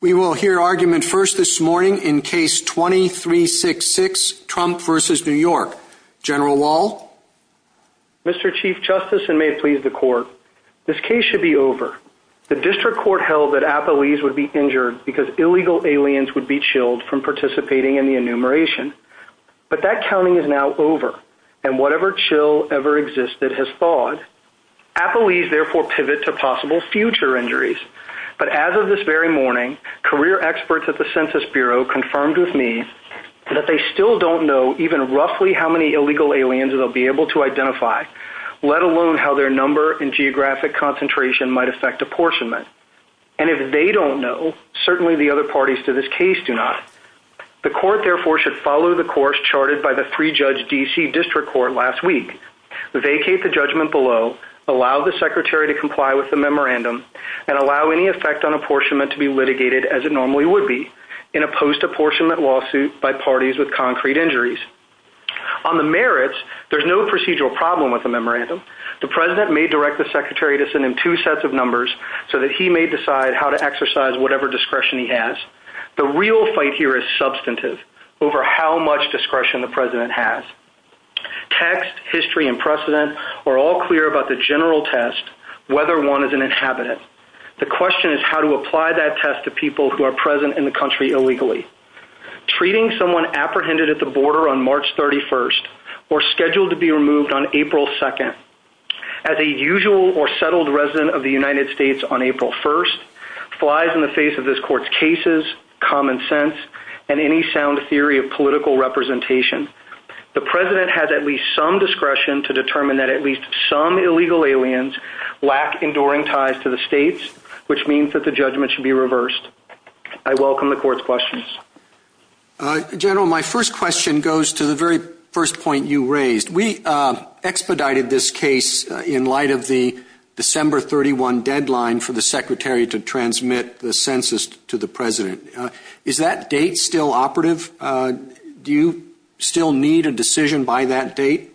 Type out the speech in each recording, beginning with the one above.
We will hear argument first this morning in Case 2366, Trump v. New York. General Wall? Mr. Chief Justice, and may it please the Court, this case should be over. The District Court held that Apolles would be injured because illegal aliens would be chilled from participating in the enumeration, but that counting is now over, and whatever chill ever existed has thawed. Apolles therefore pivot to possible future injuries, but as of this very morning, career experts at the Census Bureau confirmed with me that they still don't know even roughly how many illegal aliens they'll be able to identify, let alone how their number and geographic concentration might affect apportionment. And if they don't know, certainly the other parties to this case do not. The Court therefore should follow the course charted by the pre-judged D.C. District Court last week, vacate the judgment below, allow the Secretary to comply with the memorandum, and allow any effect on apportionment to be litigated as it normally would be, in a post-apportionment lawsuit by parties with concrete injuries. On the merits, there's no procedural problem with the memorandum. The President may direct the Secretary to send in two sets of numbers so that he may decide how to exercise whatever discretion he has. The real fight here is substantive, over how much discretion the President has. Text, history, and precedent are all clear about the general test, whether one is an inhabitant. The question is how to apply that test to people who are present in the country illegally. Treating someone apprehended at the border on March 31st, or scheduled to be removed on April 2nd, as a usual or settled resident of the United States on April 1st, flies in the face of this Court's cases, common sense, and any sound theory of political representation. The President has at least some discretion to determine that at least some illegal aliens lack enduring ties to the states, which means that the judgment should be reversed. I welcome the Court's questions. General, my first question goes to the very first point you raised. We expedited this case in light of the December 31 deadline for the Secretary to transmit the census to the President. Is that date still operative? Do you still need a decision by that date?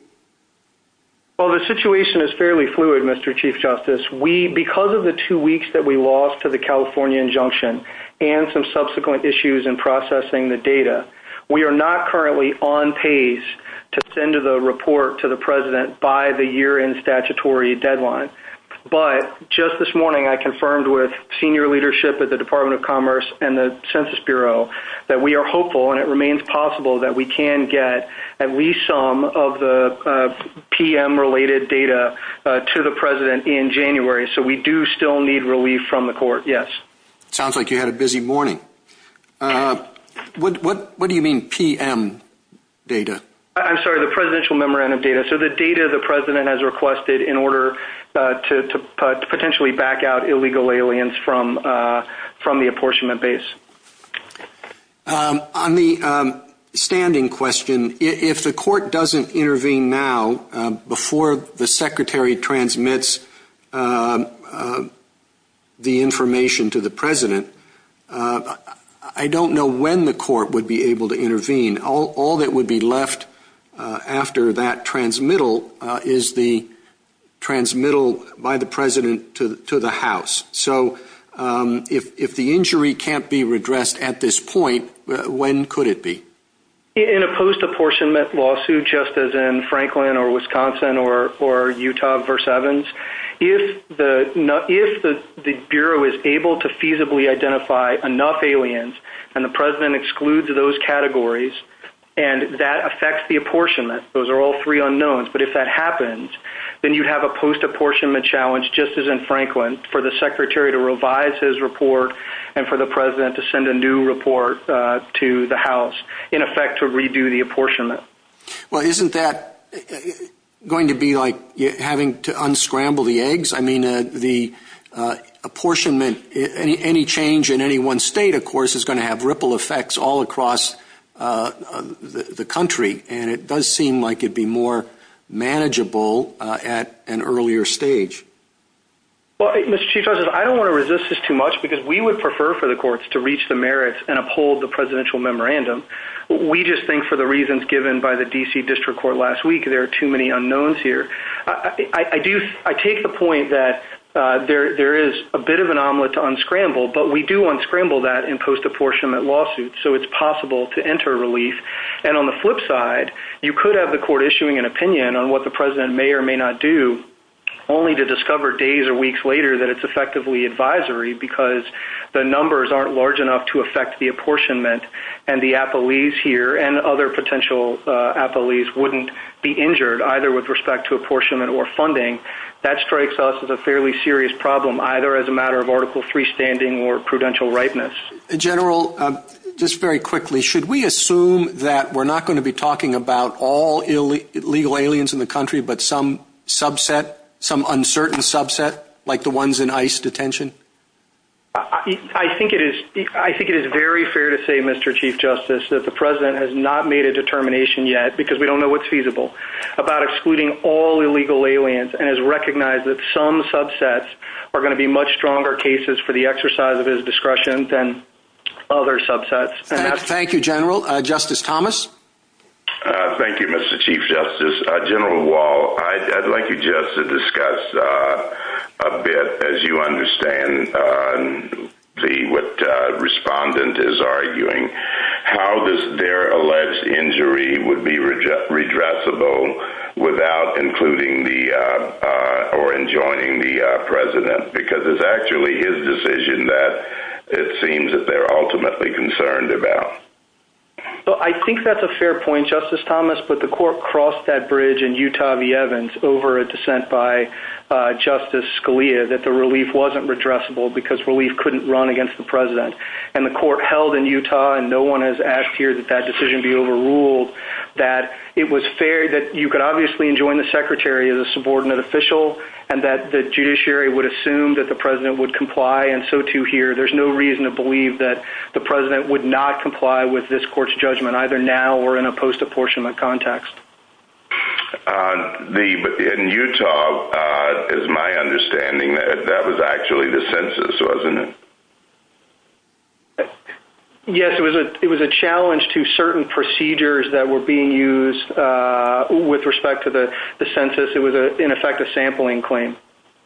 Well, the situation is fairly fluid, Mr. Chief Justice. Because of the two weeks that we lost to the California injunction and some subsequent issues in processing the data, we are not currently on pace to send the report to the President by the year-end statutory deadline. But, just this morning, I confirmed with senior leadership at the Department of Commerce and the Census Bureau that we are hopeful, and it remains possible, that we can get at least some of the PM-related data to the President in January, so we do still need relief from the Court, yes. Sounds like you had a busy morning. What do you mean, PM data? I'm sorry, the Presidential Memorandum data. So, the data the President has requested in order to potentially back out illegal aliens from the apportionment base. On the standing question, if the Court doesn't intervene now, before the Secretary transmits the information to the President, I don't know when the Court would be able to intervene. All that would be left after that transmittal is the transmittal by the President to the House. So, if the injury can't be redressed at this point, when could it be? In a post-apportionment lawsuit, just as in Franklin or Wisconsin or Utah v. Evans, if the Bureau is able to feasibly identify enough aliens, and the President excludes those categories, and that affects the apportionment, those are all three unknowns, but if that happens, then you have a post-apportionment challenge, just as in Franklin, for the Secretary to revise his report and for the President to send a new report to the House, in effect, to redo the apportionment. Well, isn't that going to be like having to unscramble the eggs? I mean, the apportionment, any change in any one state, of course, is going to have ripple effects all across the country, and it does seem like it would be more manageable at an earlier stage. Well, Mr. Chief Justice, I don't want to resist this too much, because we would prefer for the Courts to reach the merits and uphold the Presidential Memorandum. We just think, for the reasons given by the D.C. District Court last week, there are too many unknowns here. I take the point that there is a bit of an omelet to unscramble, but we do unscramble that in post-apportionment lawsuits, so it's possible to enter relief. And on the flip side, you could have the Court issuing an opinion on what the President may or may not do, only to discover days or weeks later that it's effectively advisory, because the numbers aren't large enough to affect the apportionment, and the appellees here and other potential appellees wouldn't be injured, either with respect to apportionment or funding. That strikes us as a fairly serious problem, either as a matter of Article III standing or prudential ripeness. General, just very quickly, should we assume that we're not going to be talking about all illegal aliens in the country, but some subset, some uncertain subset, like the ones in ICE detention? I think it is very fair to say, Mr. Chief Justice, that the President has not made a determination yet, because we don't know what's feasible, about excluding all illegal aliens, and has recognized that some subsets are going to be much stronger cases for the exercise of his discretion than other subsets. Thank you, General. Justice Thomas? Thank you, Mr. Chief Justice. General Wall, I'd like you just to discuss a bit, as you understand what Respondent is enjoying the President, because it's actually his decision that it seems that they're ultimately concerned about. I think that's a fair point, Justice Thomas, but the court crossed that bridge in Utah v. Evans, over a dissent by Justice Scalia, that the relief wasn't redressable, because relief couldn't run against the President. The court held in Utah, and no one has asked here that that decision be overruled, that it was fair that you could obviously enjoin the Secretary as a subordinate official, and that the judiciary would assume that the President would comply, and so too here. There's no reason to believe that the President would not comply with this court's judgment, either now or in a post-apportionment context. But in Utah, it's my understanding that that was actually the census, wasn't it? Yes, it was a challenge to certain procedures that were being used with respect to the census. It was, in effect, a sampling claim.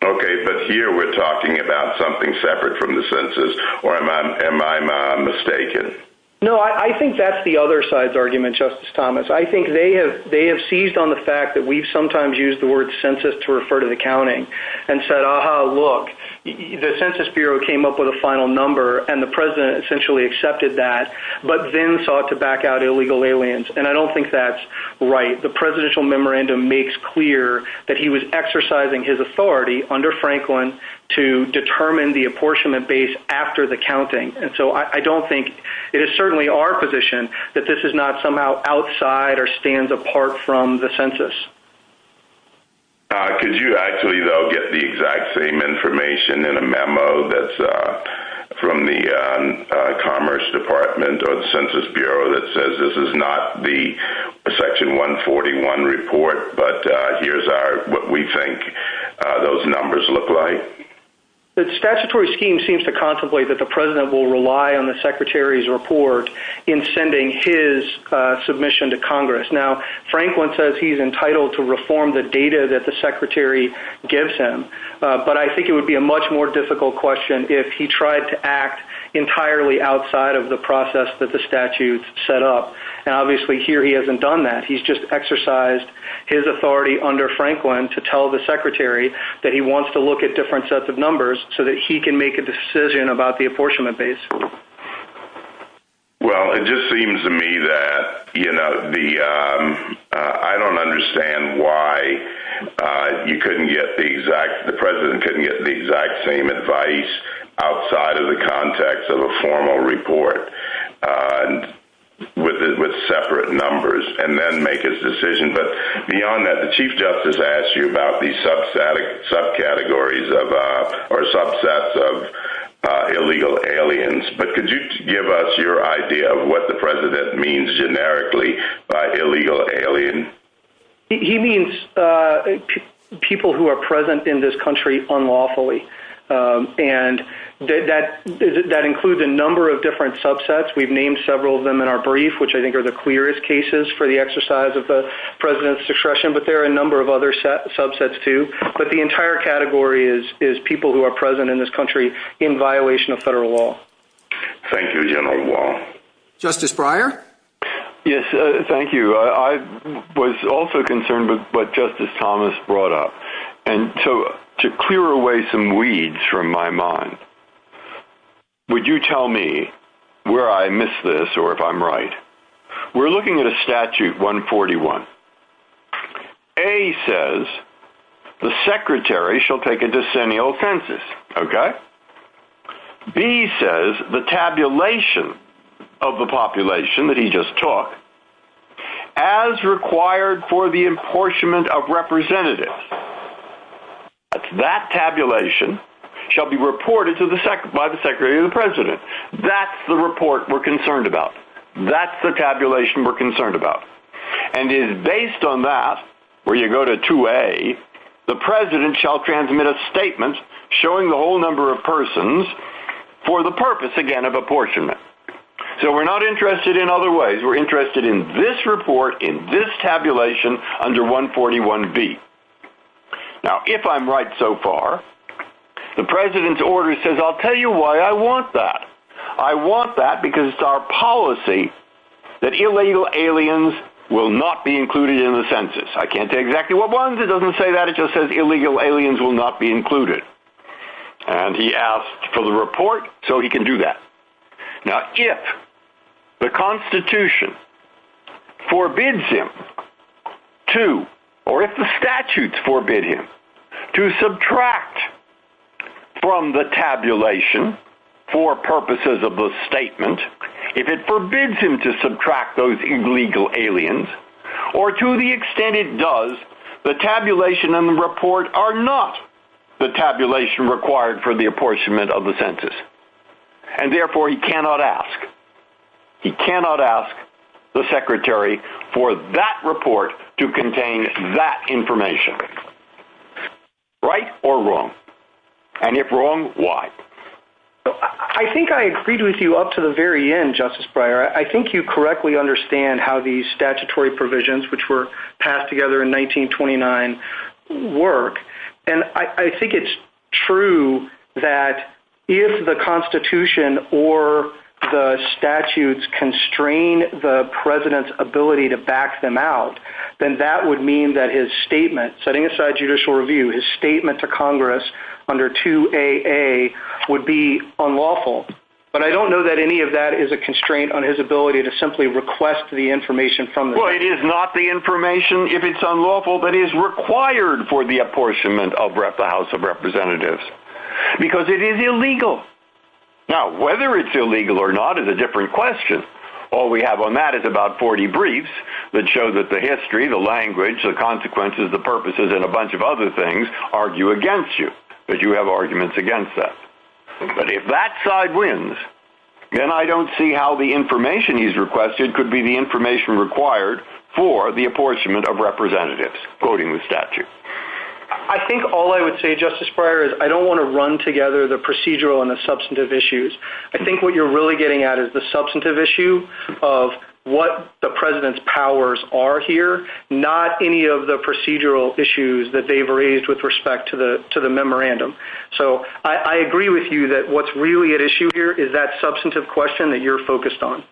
Okay, but here we're talking about something separate from the census, or am I mistaken? No, I think that's the other side's argument, Justice Thomas. I think they have seized on the fact that we sometimes use the word census to refer to the counting, and said, aha, look, the Census Bureau came up with a final number, and the President essentially accepted that, but then sought to back out illegal aliens. And I don't think that's right. The Presidential Memorandum makes clear that he was exercising his authority under Franklin to determine the apportionment base after the counting. And so I don't think... It is certainly our position that this is not somehow outside or stands apart from the census. Could you actually, though, get the exact same information in a memo that's from the Commerce Department or the Census Bureau that says this is not the Section 141 report, but here's what we think those numbers look like? The statutory scheme seems to contemplate that the President will rely on the Secretary's report in sending his submission to Congress. Now, Franklin says he's entitled to reform the data that the Secretary gives him, but I think it would be a much more difficult question if he tried to act entirely outside of the process that the statute set up. And obviously, here he hasn't done that. He's just exercised his authority under Franklin to tell the Secretary that he wants to look at different sets of numbers so that he can make a decision about the apportionment base. Well, it just seems to me that I don't understand why you couldn't get the exact... The President couldn't get the exact same advice outside of the context of a formal report with separate numbers and then make his decision. But beyond that, the Chief Justice asked you about these subcategories or subsets of illegal aliens, but could you give us your idea of what the President means generically by illegal alien? He means people who are present in this country unlawfully, and that includes a number of different subsets. We've named several of them in our brief, which I think are the clearest cases for the exercise of the President's discretion, but there are a number of other subsets too. But the entire category is people who are present in this country in violation of federal law. Thank you, General Wall. Justice Breyer? Yes. Thank you. I was also concerned with what Justice Thomas brought up, and so to clear away some weeds from my mind, would you tell me where I missed this or if I'm right? We're looking at a statute, 141. A says the Secretary shall take a decennial census, okay? B says the tabulation of the population that he just took, as required for the apportionment of representatives, that tabulation shall be reported by the Secretary to the President. That's the report we're concerned about. That's the tabulation we're concerned about. And it is based on that, where you go to 2A, the President shall transmit a statement showing the whole number of persons for the purpose, again, of apportionment. So we're not interested in other ways. We're interested in this report, in this tabulation under 141B. Now if I'm right so far, the President's order says, I'll tell you why I want that. I want that because it's our policy that illegal aliens will not be included in the census. I can't say exactly what one is, it doesn't say that, it just says illegal aliens will not be included. And he asked for the report, so he can do that. Now if the Constitution forbids him to, or if the statutes forbid him to subtract from the tabulation for purposes of the statement, if it forbids him to subtract those illegal aliens, or to the extent it does, the tabulation and the report are not the tabulation required for the apportionment of the census. And therefore he cannot ask, he cannot ask the Secretary for that report to contain that information. Right or wrong? And if wrong, why? I think I agreed with you up to the very end, Justice Breyer. I think you correctly understand how these statutory provisions, which were passed together in 1929, work. And I think it's true that if the Constitution or the statutes constrain the President's ability to back them out, then that would mean that his statement, setting aside judicial review, his statement to Congress under 2AA would be unlawful. But I don't know that any of that is a constraint on his ability to simply request the information from the State. Well, it is not the information if it's unlawful, but it is required for the apportionment of the House of Representatives, because it is illegal. Now whether it's illegal or not is a different question. All we have on that is about 40 briefs that show that the history, the language, the consequences, the purposes, and a bunch of other things argue against you, that you have arguments against that. But if that side wins, then I don't see how the information he's requested could be the information required for the apportionment of Representatives, quoting the statute. I think all I would say, Justice Breyer, is I don't want to run together the procedural and the substantive issues. I think what you're really getting at is the substantive issue of what the President's powers are here, not any of the procedural issues that they've raised with respect to the memorandum. So I agree with you that what's really at issue here is that substantive question that you're focused on.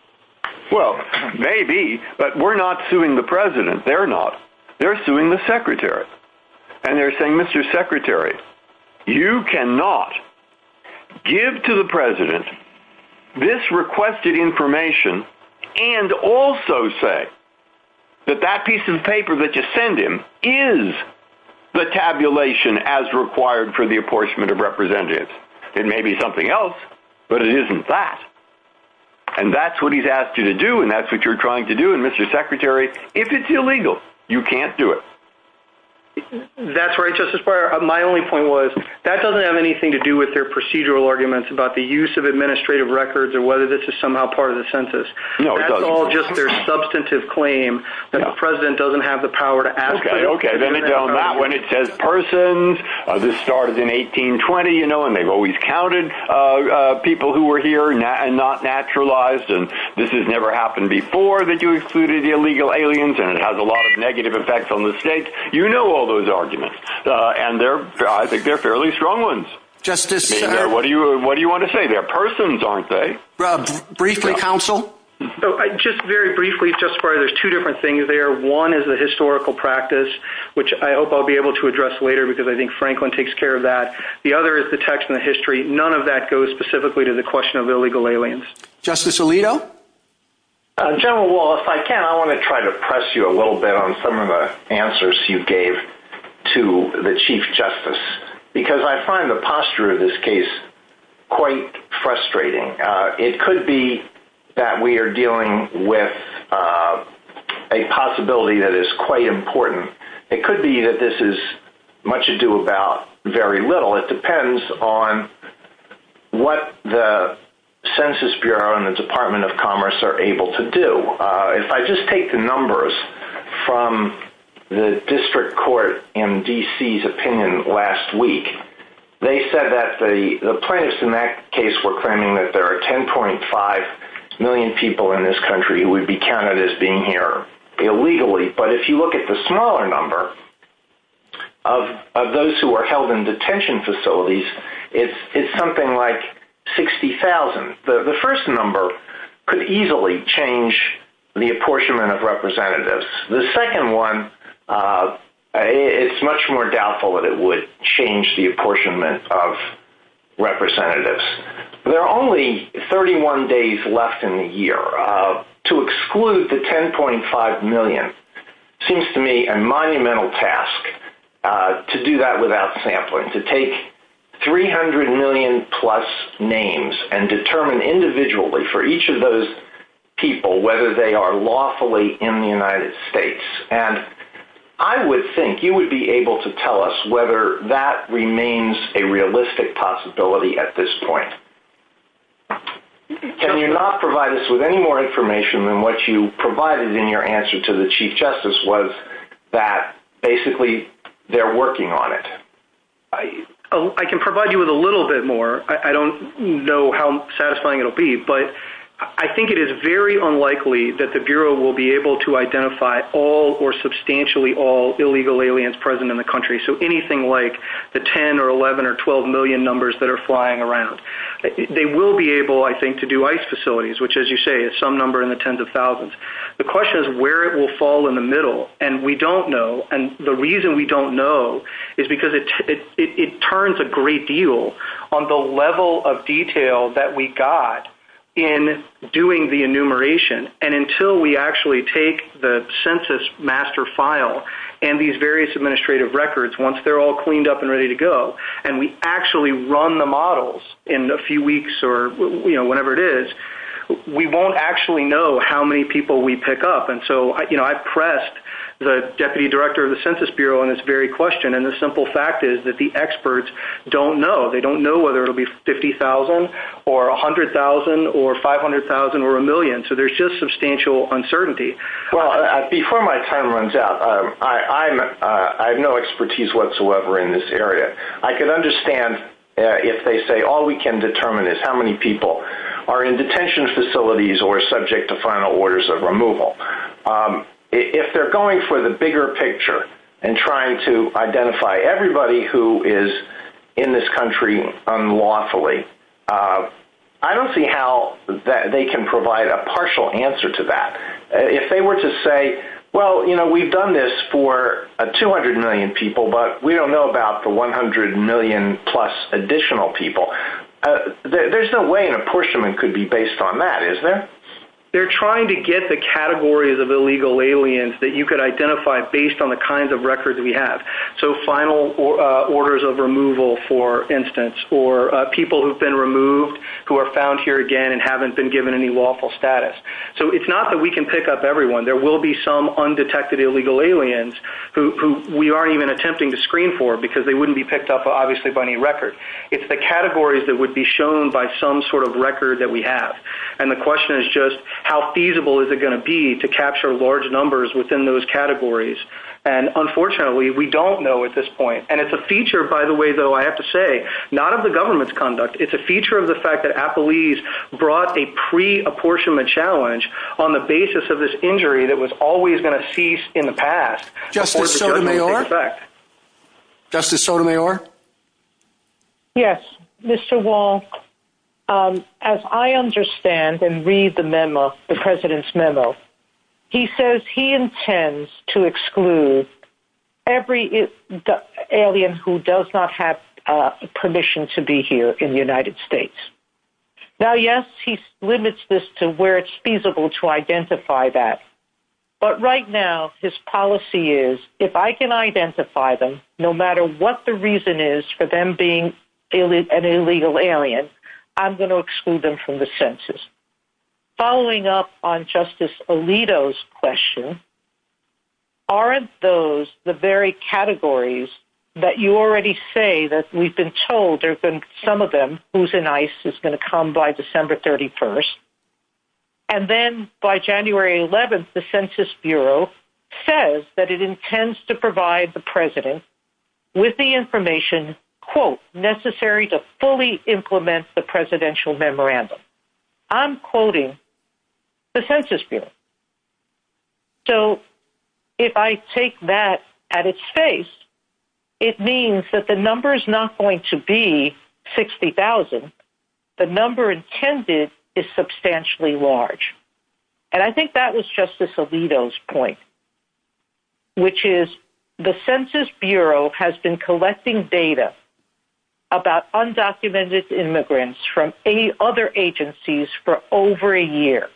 Well, maybe, but we're not suing the President. They're not. They're suing the Secretary. And they're saying, Mr. Secretary, you cannot give to the President this requested information and also say that that piece of paper that you send him is the tabulation as required for the apportionment of Representatives. It may be something else, but it isn't that. And that's what he's asked you to do, and that's what you're trying to do. And Mr. Secretary, if it's illegal, you can't do it. That's right, Justice Breyer. My only point was, that doesn't have anything to do with their procedural arguments about the use of administrative records or whether this is somehow part of the census. No, it doesn't. That's all just their substantive claim that the President doesn't have the power to ask for it. Okay, okay. I mean, on that one, it says persons. This started in 1820, you know, and they've always counted people who were here and not naturalized. And this has never happened before, that you excluded the illegal aliens, and it has a lot of negative effects on the states. You know all those arguments, and I think they're fairly strong ones. Justice- I mean, what do you want to say? They're persons, aren't they? Briefly, Counsel? Just very briefly, Justice Breyer, there's two different things there. One is the historical practice, which I hope I'll be able to address later, because I think Franklin takes care of that. The other is the text and the history. None of that goes specifically to the question of illegal aliens. Justice Alito? General Wallace, if I can, I want to try to press you a little bit on some of the answers you gave to the Chief Justice, because I find the posture of this case quite frustrating. It could be that we are dealing with a possibility that is quite important. It could be that this is much ado about very little. It depends on what the Census Bureau and the Department of Commerce are able to do. If I just take the numbers from the District Court in D.C.'s opinion last week, they said that the plaintiffs in that case were claiming that there are 10.5 million people in this country who would be counted as being here illegally. But if you look at the smaller number of those who are held in detention facilities, it's something like 60,000. The first number could easily change the apportionment of representatives. The second one, it's much more doubtful that it would change the apportionment of representatives. There are only 31 days left in the year. To exclude the 10.5 million seems to me a monumental task to do that without sampling, to take 300 million plus names and determine individually for each of those people whether they are lawfully in the United States. I would think you would be able to tell us whether that remains a realistic possibility at this point. Can you not provide us with any more information than what you provided in your answer to the Chief Justice was that basically they're working on it? I can provide you with a little bit more. I don't know how satisfying it will be. But I think it is very unlikely that the Bureau will be able to identify all or substantially all illegal aliens present in the country, so anything like the 10 or 11 or 12 million numbers that are flying around. They will be able, I think, to do ICE facilities, which, as you say, is some number in the tens of thousands. The question is where it will fall in the middle, and we don't know. The reason we don't know is because it turns a great deal on the level of detail that we got in doing the enumeration, and until we actually take the census master file and these various administrative records, once they're all cleaned up and ready to go and we actually run the models in a few weeks or whenever it is, we won't actually know how many people we pick up. And so I pressed the Deputy Director of the Census Bureau on this very question, and the simple fact is that the experts don't know. They don't know whether it will be 50,000 or 100,000 or 500,000 or a million, so there's just substantial uncertainty. Well, before my time runs out, I have no expertise whatsoever in this area. I can understand if they say all we can determine is how many people are in detention facilities or subject to final orders of removal. If they're going for the bigger picture and trying to identify everybody who is in this country unlawfully, I don't see how they can provide a partial answer to that. If they were to say, well, you know, we've done this for 200 million people, but we don't know about the 100 million-plus additional people, there's no way an apportionment could be based on that, is there? They're trying to get the categories of illegal aliens that you could identify based on the kinds of records we have. So final orders of removal, for instance, or people who have been removed, who are found here again and haven't been given any lawful status. So it's not that we can pick up everyone. There will be some undetected illegal aliens who we aren't even attempting to screen for because they wouldn't be picked up, obviously, by any record. It's the categories that would be shown by some sort of record that we have. And the question is just how feasible is it going to be to capture large numbers within those categories? And, unfortunately, we don't know at this point. And it's a feature, by the way, though, I have to say, not of the government's conduct. It's a feature of the fact that Applebee's brought a pre-apportionment challenge on the basis of this injury that was always going to cease in the past. Justice Sotomayor? Justice Sotomayor? Yes. Mr. Wall, as I understand and read the memo, the President's memo, he says he intends to exclude every alien who does not have permission to be here in the United States. Now, yes, he limits this to where it's feasible to identify that. But right now his policy is if I can identify them, no matter what the reason is for them being an illegal alien, I'm going to exclude them from the census. Following up on Justice Alito's question, aren't those the very categories that you already say that we've been told there have been some of them who's in ICE is going to come by December 31st? And then by January 11th, the Census Bureau says that it intends to provide the President with the information, quote, necessary to fully implement the presidential memorandum. I'm quoting the Census Bureau. So if I take that at its face, it means that the number is not going to be 60,000. The number intended is substantially large. And I think that was Justice Alito's point, which is the Census Bureau has been collecting data about undocumented immigrants from any other agencies for over a year.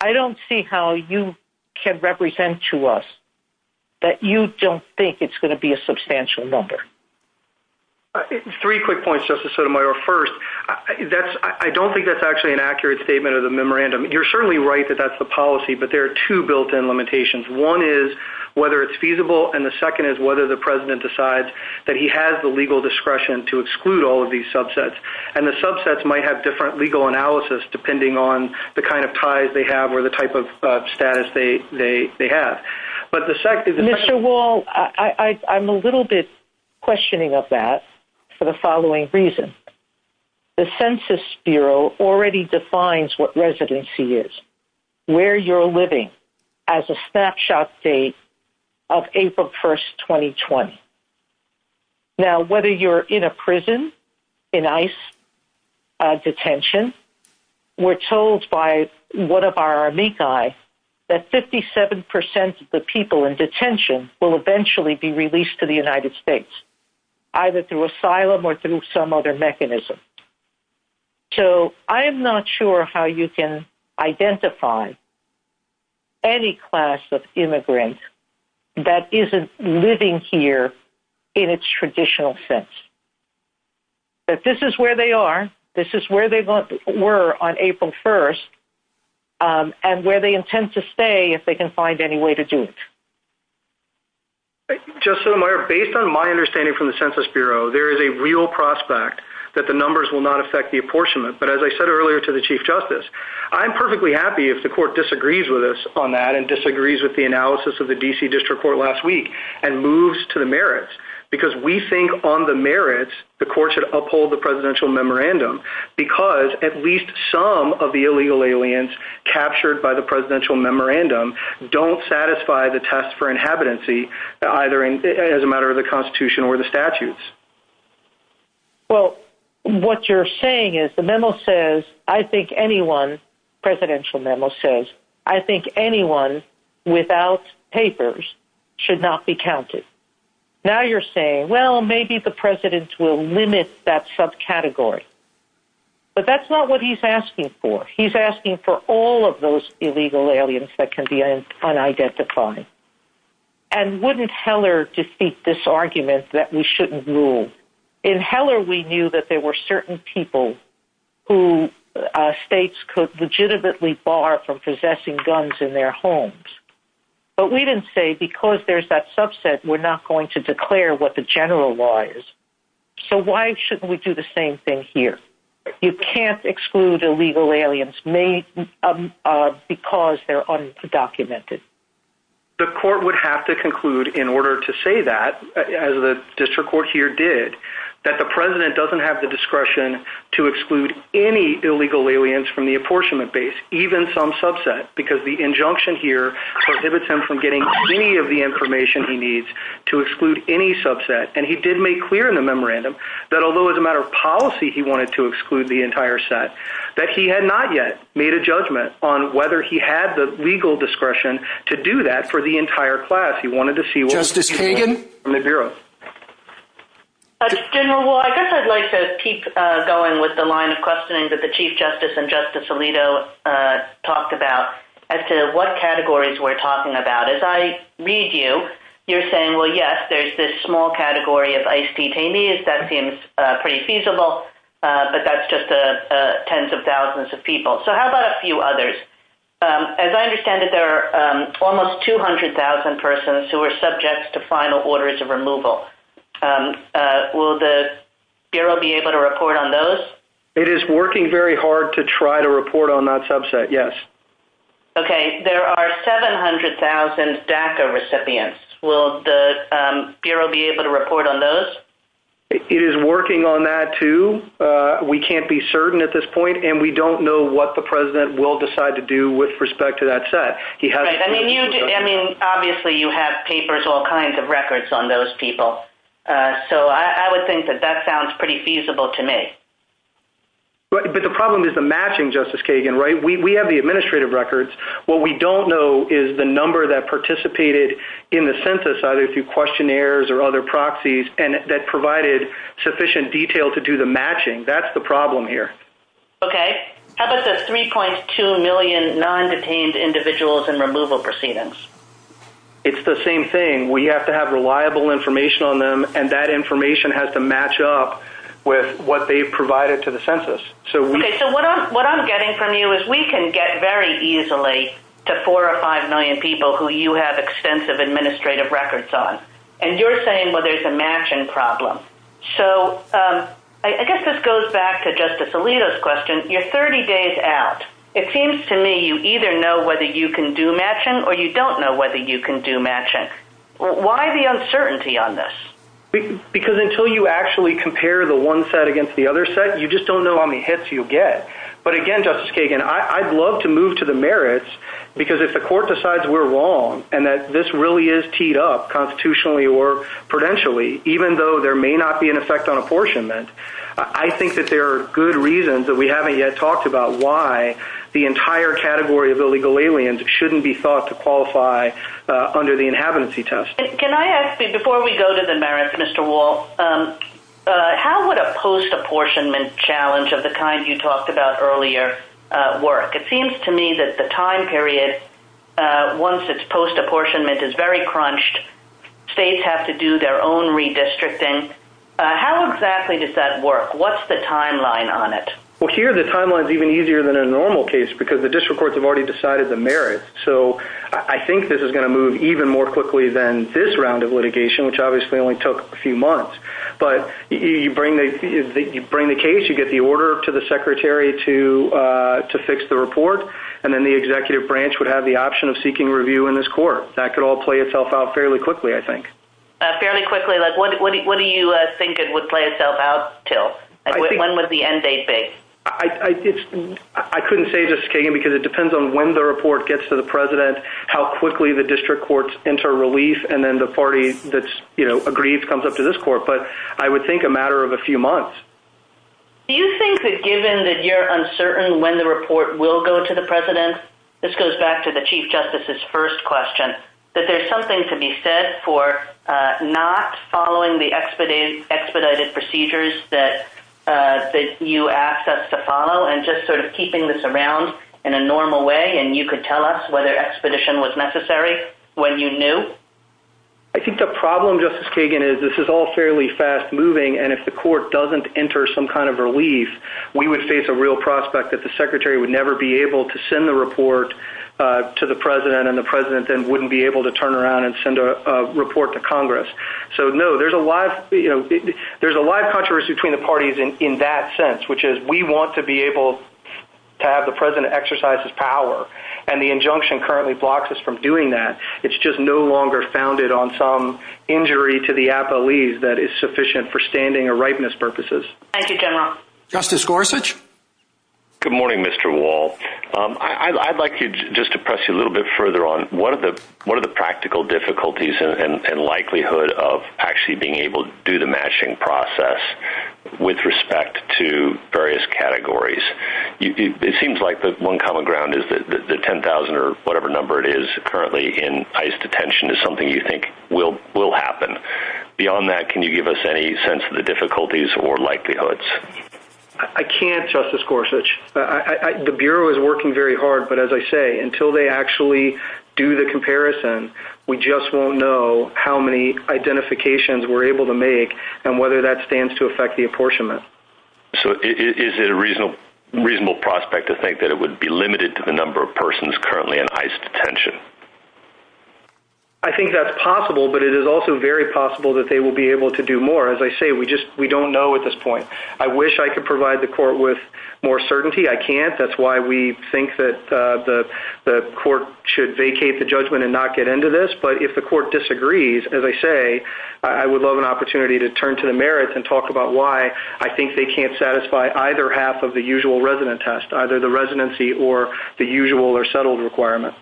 I don't see how you can represent to us that you don't think it's going to be a substantial number. Three quick points, Justice Sotomayor. First, I don't think that's actually an accurate statement of the memorandum. You're certainly right that that's the policy, but there are two built-in limitations. One is whether it's feasible, and the second is whether the President decides that he has the legal discretion to exclude all of these subsets. And the subsets might have different legal analysis depending on the kind of ties they have or the type of status they have. Mr. Wall, I'm a little bit questioning of that for the following reason. The Census Bureau already defines what residency is, where you're living, as a snapshot date of April 1, 2020. Now, whether you're in a prison, in ICE detention, we're told by one of our Amici that 57% of the people in detention will eventually be released to the United States, either through asylum or through some other mechanism. So I am not sure how you can identify any class of immigrant that isn't living here in its traditional sense. But this is where they are. This is where they were on April 1, and where they intend to stay if they can find any way to do it. Thank you, Justice Sotomayor. Based on my understanding from the Census Bureau, there is a real prospect that the numbers will not affect the apportionment. But as I said earlier to the Chief Justice, I'm perfectly happy if the Court disagrees with us on that and disagrees with the analysis of the D.C. District Court last week and moves to the merits. Because we think on the merits, the Court should uphold the presidential memorandum, because at least some of the illegal aliens captured by the presidential memorandum don't satisfy the test for inhabitancy, either as a matter of the Constitution or the statutes. Well, what you're saying is the memo says, I think anyone, presidential memo says, I think anyone without papers should not be counted. Now you're saying, well, maybe the president will limit that subcategory. But that's not what he's asking for. He's asking for all of those illegal aliens that can be unidentified. And wouldn't Heller defeat this argument that we shouldn't rule? In Heller, we knew that there were certain people who states could legitimately bar from possessing guns in their homes. But we didn't say, because there's that subset, we're not going to declare what the general law is. So why shouldn't we do the same thing here? You can't exclude illegal aliens because they're undocumented. The Court would have to conclude in order to say that, as the District Court here did, that the president doesn't have the discretion to exclude any illegal aliens from the apportionment base, even some subset, because the injunction here prohibits him from getting any of the information he needs to exclude any subset. And he did make clear in the memorandum that although as a matter of policy he wanted to exclude the entire set, that he had not yet made a judgment on whether he had the legal discretion to do that for the entire class. Justice Kagan? General, I guess I'd like to keep going with the line of questioning that the Chief Justice and Justice Alito talked about as to what categories we're talking about. As I read you, you're saying, well, yes, there's this small category of ICE detainees. That seems pretty feasible, but that's just tens of thousands of people. So how about a few others? As I understand it, there are almost 200,000 persons who are subject to final orders of removal. Will the Bureau be able to report on those? It is working very hard to try to report on that subset, yes. Okay. There are 700,000 DACA recipients. Will the Bureau be able to report on those? It is working on that, too. We can't be certain at this point, and we don't know what the President will decide to do with respect to that set. Obviously, you have papers, all kinds of records on those people. So I would think that that sounds pretty feasible to me. But the problem is the matching, Justice Kagan, right? We have the administrative records. What we don't know is the number that participated in the census, either through questionnaires or other proxies, and that provided sufficient detail to do the matching. That's the problem here. Okay. How about the 3.2 million non-detained individuals in removal proceedings? It's the same thing. We have to have reliable information on them, and that information has to match up with what they've provided to the census. Okay. So what I'm getting from you is we can get very easily to 4 or 5 million people who you have extensive administrative records on, and you're saying, well, there's a matching problem. So I guess this goes back to Justice Alito's question. You're 30 days out. It seems to me you either know whether you can do matching or you don't know whether you can do matching. Why the uncertainty on this? Because until you actually compare the one set against the other set, you just don't know how many hits you get. But again, Justice Kagan, I'd love to move to the merits because if the court decides we're wrong and that this really is teed up constitutionally or prudentially, even though there may not be an effect on apportionment, I think that there are good reasons that we haven't yet talked about why the entire category of illegal aliens shouldn't be thought to qualify under the inhabitancy test. Can I ask you, before we go to the merits, Mr. Wall, how would a post-apportionment challenge of the kind you talked about earlier work? It seems to me that the time period, once it's post-apportionment, is very crunched. States have to do their own redistricting. How exactly does that work? What's the timeline on it? Well, here the timeline is even easier than a normal case because the district courts have already decided the merits. So I think this is going to move even more quickly than this round of litigation, which obviously only took a few months. But you bring the case, you get the order to the secretary to fix the report, and then the executive branch would have the option of seeking review in this court. That could all play itself out fairly quickly, I think. Fairly quickly? What do you think it would play itself out to? When would the end date be? I couldn't say, Justice Kagan, because it depends on when the report gets to the president, how quickly the district courts enter relief, and then the party that's agreed comes up to this court. But I would think a matter of a few months. Do you think that given that you're uncertain when the report will go to the president, this goes back to the Chief Justice's first question, that there's something to be said for not following the expedited procedures that you asked us to follow and just sort of keeping this around in a normal way and you could tell us whether expedition was necessary when you knew? I think the problem, Justice Kagan, is this is all fairly fast-moving, and if the court doesn't enter some kind of relief, we would face a real prospect that the secretary would never be able to send the report to the president, and the president then wouldn't be able to turn around and send a report to Congress. So, no, there's a lot of controversy between the parties in that sense, which is we want to be able to have the president exercise his power, and the injunction currently blocks us from doing that. It's just no longer founded on some injury to the appellees that is sufficient for standing or rightness purposes. Thank you, General. Justice Gorsuch? Good morning, Mr. Wall. I'd like just to press you a little bit further on what are the practical difficulties and likelihood of actually being able to do the matching process with respect to various categories? It seems like the one common ground is that the 10,000 or whatever number it is currently in ICE detention is something you think will happen. Beyond that, can you give us any sense of the difficulties or likelihoods? I can't, Justice Gorsuch. The Bureau is working very hard, but as I say, until they actually do the comparison, we just won't know how many identifications we're able to make and whether that stands to affect the apportionment. So is it a reasonable prospect to think that it would be limited to the number of persons currently in ICE detention? I think that's possible, but it is also very possible that they will be able to do more. As I say, we don't know at this point. I wish I could provide the court with more certainty. I can't. That's why we think that the court should vacate the judgment and not get into this. But if the court disagrees, as I say, I would love an opportunity to turn to the merits and talk about why I think they can't satisfy either half of the usual resident test, either the residency or the usual or settled requirement.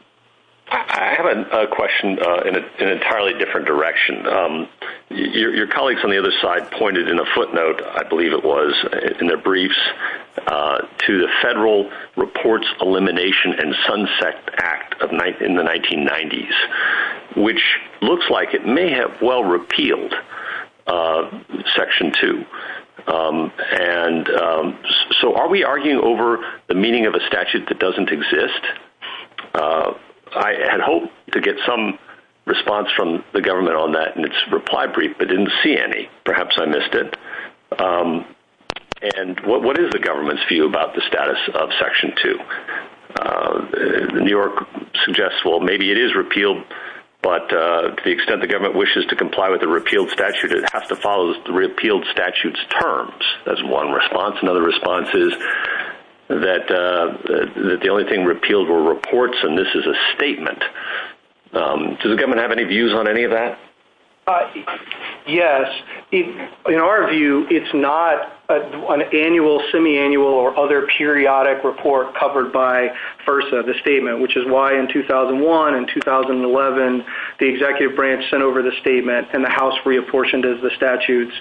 I have a question in an entirely different direction. Your colleagues on the other side pointed in a footnote, I believe it was, in their briefs to the Federal Reports Elimination and Sunset Act in the 1990s, which looks like it may have well repealed Section 2. So are we arguing over the meaning of a statute that doesn't exist? I had hoped to get some response from the government on that in its reply brief, but I didn't see any. Perhaps I missed it. And what is the government's view about the status of Section 2? New York suggests, well, maybe it is repealed, but to the extent the government wishes to comply with the repealed statute, it has to follow the repealed statute's terms. That's one response. Another response is that the only thing repealed were reports and this is a statement. Does the government have any views on any of that? Yes. In our view, it's not an annual, semi-annual, or other periodic report covered by FERSA, the statement, which is why in 2001 and 2011 the executive branch sent over the statement and the House reapportioned as the statutes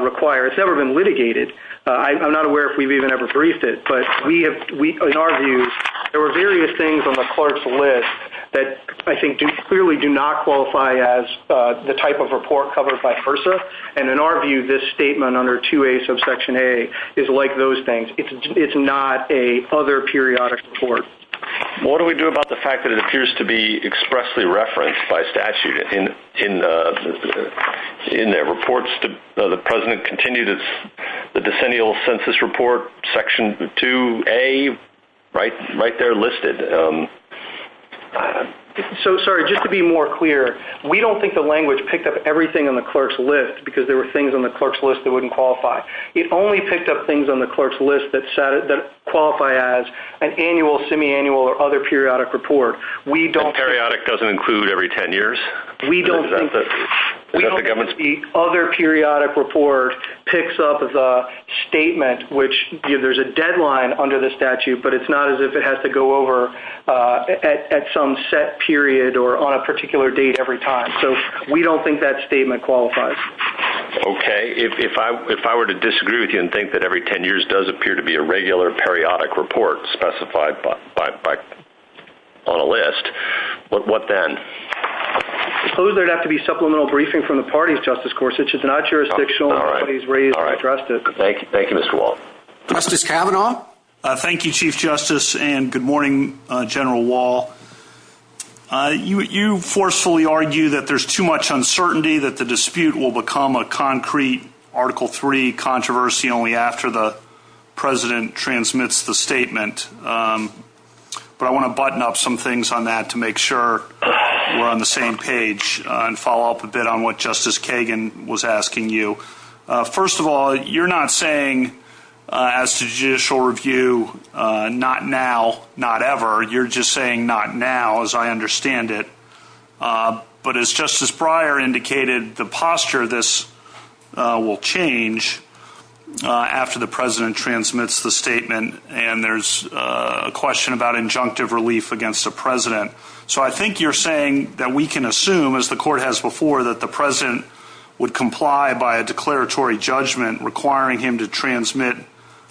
require. It's never been litigated. I'm not aware if we've even ever briefed it, but in our view there were various things on the clerk's list that I think clearly do not qualify as the type of report covered by FERSA, and in our view this statement under 2A subsection A is like those things. It's not a other periodic report. What do we do about the fact that it appears to be expressly referenced by statute? In the reports, the president continued the decennial census report, section 2A, right there listed. Sorry, just to be more clear, we don't think the language picked up everything on the clerk's list because there were things on the clerk's list that wouldn't qualify. It only picked up things on the clerk's list that qualify as an annual, semi-annual, or other periodic report. Periodic doesn't include every 10 years? We don't think the other periodic report picks up the statement, which there's a deadline under the statute, but it's not as if it has to go over at some set period or on a particular date every time. So we don't think that statement qualifies. Okay. If I were to disagree with you and think that every 10 years does appear to be a regular periodic report specified on a list, what then? I suppose there would have to be supplemental briefing from the party, Justice Gorsuch. It's not jurisdictional. Thank you, Mr. Wall. Justice Kavanaugh? Thank you, Chief Justice, and good morning, General Wall. You forcefully argue that there's too much uncertainty, that the dispute will become a concrete Article III controversy only after the President transmits the statement. But I want to button up some things on that to make sure we're on the same page and follow up a bit on what Justice Kagan was asking you. First of all, you're not saying, as to judicial review, not now, not ever. You're just saying not now, as I understand it. But as Justice Breyer indicated, the posture of this will change. After the President transmits the statement, and there's a question about injunctive relief against the President. So I think you're saying that we can assume, as the Court has before, that the President would comply by a declaratory judgment requiring him to transmit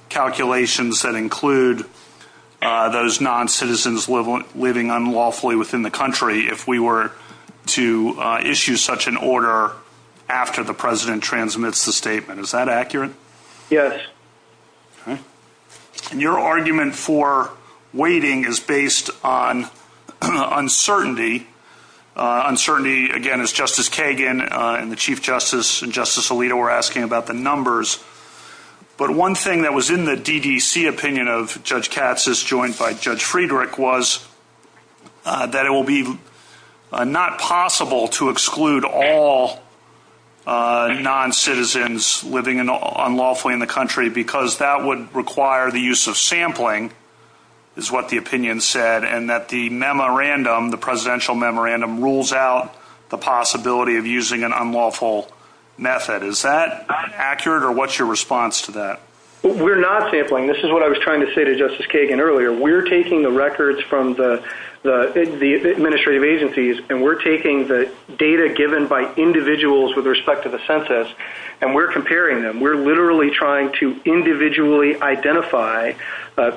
calculations that include those non-citizens living unlawfully within the country if we were to issue such an order after the President transmits the statement. Is that accurate? Yes. Okay. And your argument for waiting is based on uncertainty. Uncertainty, again, as Justice Kagan and the Chief Justice and Justice Alito were asking about the numbers. But one thing that was in the DDC opinion of Judge Katz, as joined by Judge Friedrich, was that it will be not possible to exclude all non-citizens living unlawfully in the country because that would require the use of sampling, is what the opinion said, and that the memorandum, the presidential memorandum, rules out the possibility of using an unlawful method. Is that accurate, or what's your response to that? We're not sampling. This is what I was trying to say to Justice Kagan earlier. We're taking the records from the administrative agencies, and we're taking the data given by individuals with respect to the census, and we're comparing them. We're literally trying to individually identify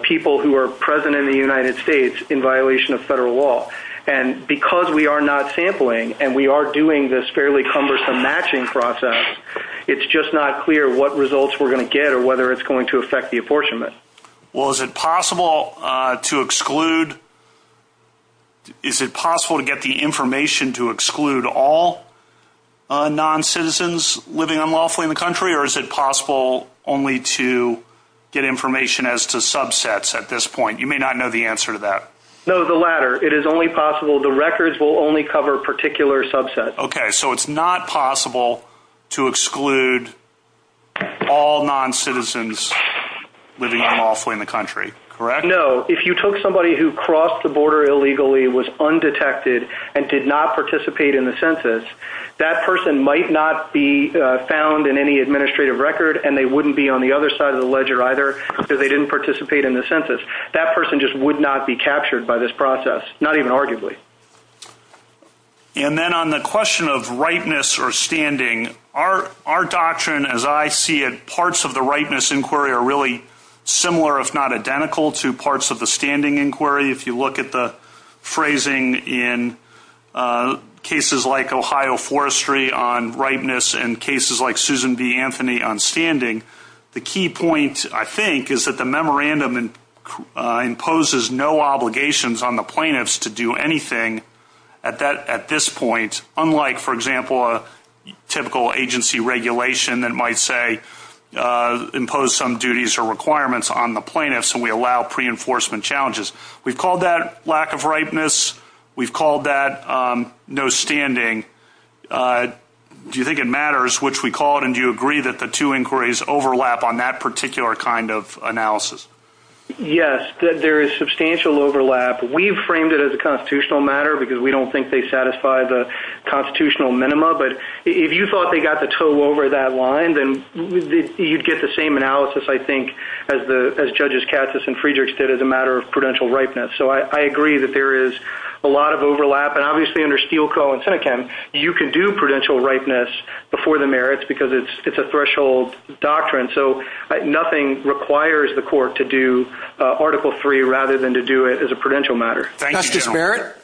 people who are present in the United States in violation of federal law. And because we are not sampling, and we are doing this fairly cumbersome matching process, it's just not clear what results we're going to get or whether it's going to affect the apportionment. Well, is it possible to exclude? Is it possible to get the information to exclude all non-citizens living unlawfully in the country, or is it possible only to get information as to subsets at this point? You may not know the answer to that. No, the latter. It is only possible the records will only cover a particular subset. Okay. So it's not possible to exclude all non-citizens living unlawfully in the country, correct? No. If you took somebody who crossed the border illegally, was undetected, and did not participate in the census, that person might not be found in any administrative record, and they wouldn't be on the other side of the ledger either because they didn't participate in the census. That person just would not be captured by this process, not even arguably. And then on the question of ripeness or standing, our doctrine, as I see it, parts of the ripeness inquiry are really similar, if not identical to parts of the standing inquiry. If you look at the phrasing in cases like Ohio Forestry on ripeness and cases like Susan B. Anthony on standing, the key point I think is that the memorandum imposes no obligations on the plaintiff. It doesn't impose anything at this point, unlike, for example, a typical agency regulation that might, say, impose some duties or requirements on the plaintiff, so we allow pre-enforcement challenges. We've called that lack of ripeness. We've called that no standing. Do you think it matters which we call it, and do you agree that the two inquiries overlap on that particular kind of analysis? Yes, there is substantial overlap. We've framed it as a constitutional matter because we don't think they satisfy the constitutional minima, but if you thought they got the toe over that line, then you'd get the same analysis, I think, as Judges Katsas and Friedrichs did as a matter of prudential ripeness. So I agree that there is a lot of overlap, and obviously under Steele Co. and Seneca, you can do prudential ripeness before the merits because it's a threshold doctrine, so nothing requires the court to do Article III rather than to do it as a constitutional matter. Justice Merritt?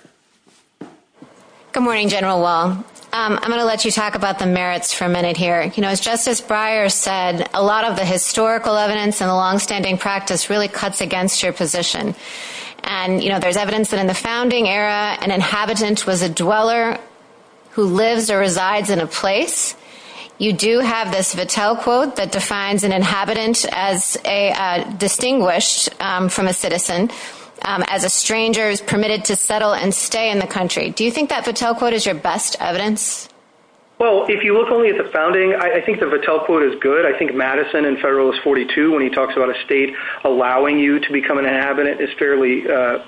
Good morning, General Wall. I'm going to let you talk about the merits for a minute here. As Justice Breyer said, a lot of the historical evidence and the longstanding practice really cuts against your position. There's evidence that in the founding era, an inhabitant was a dweller who lives or resides in a place. You do have this Vittel quote that defines an inhabitant as distinguished from a citizen, as a stranger, permitted to settle and stay in the country. Do you think that Vittel quote is your best evidence? Well, if you look only at the founding, I think the Vittel quote is good. I think Madison in Federalist 42, when he talks about a state allowing you to become an inhabitant, is fairly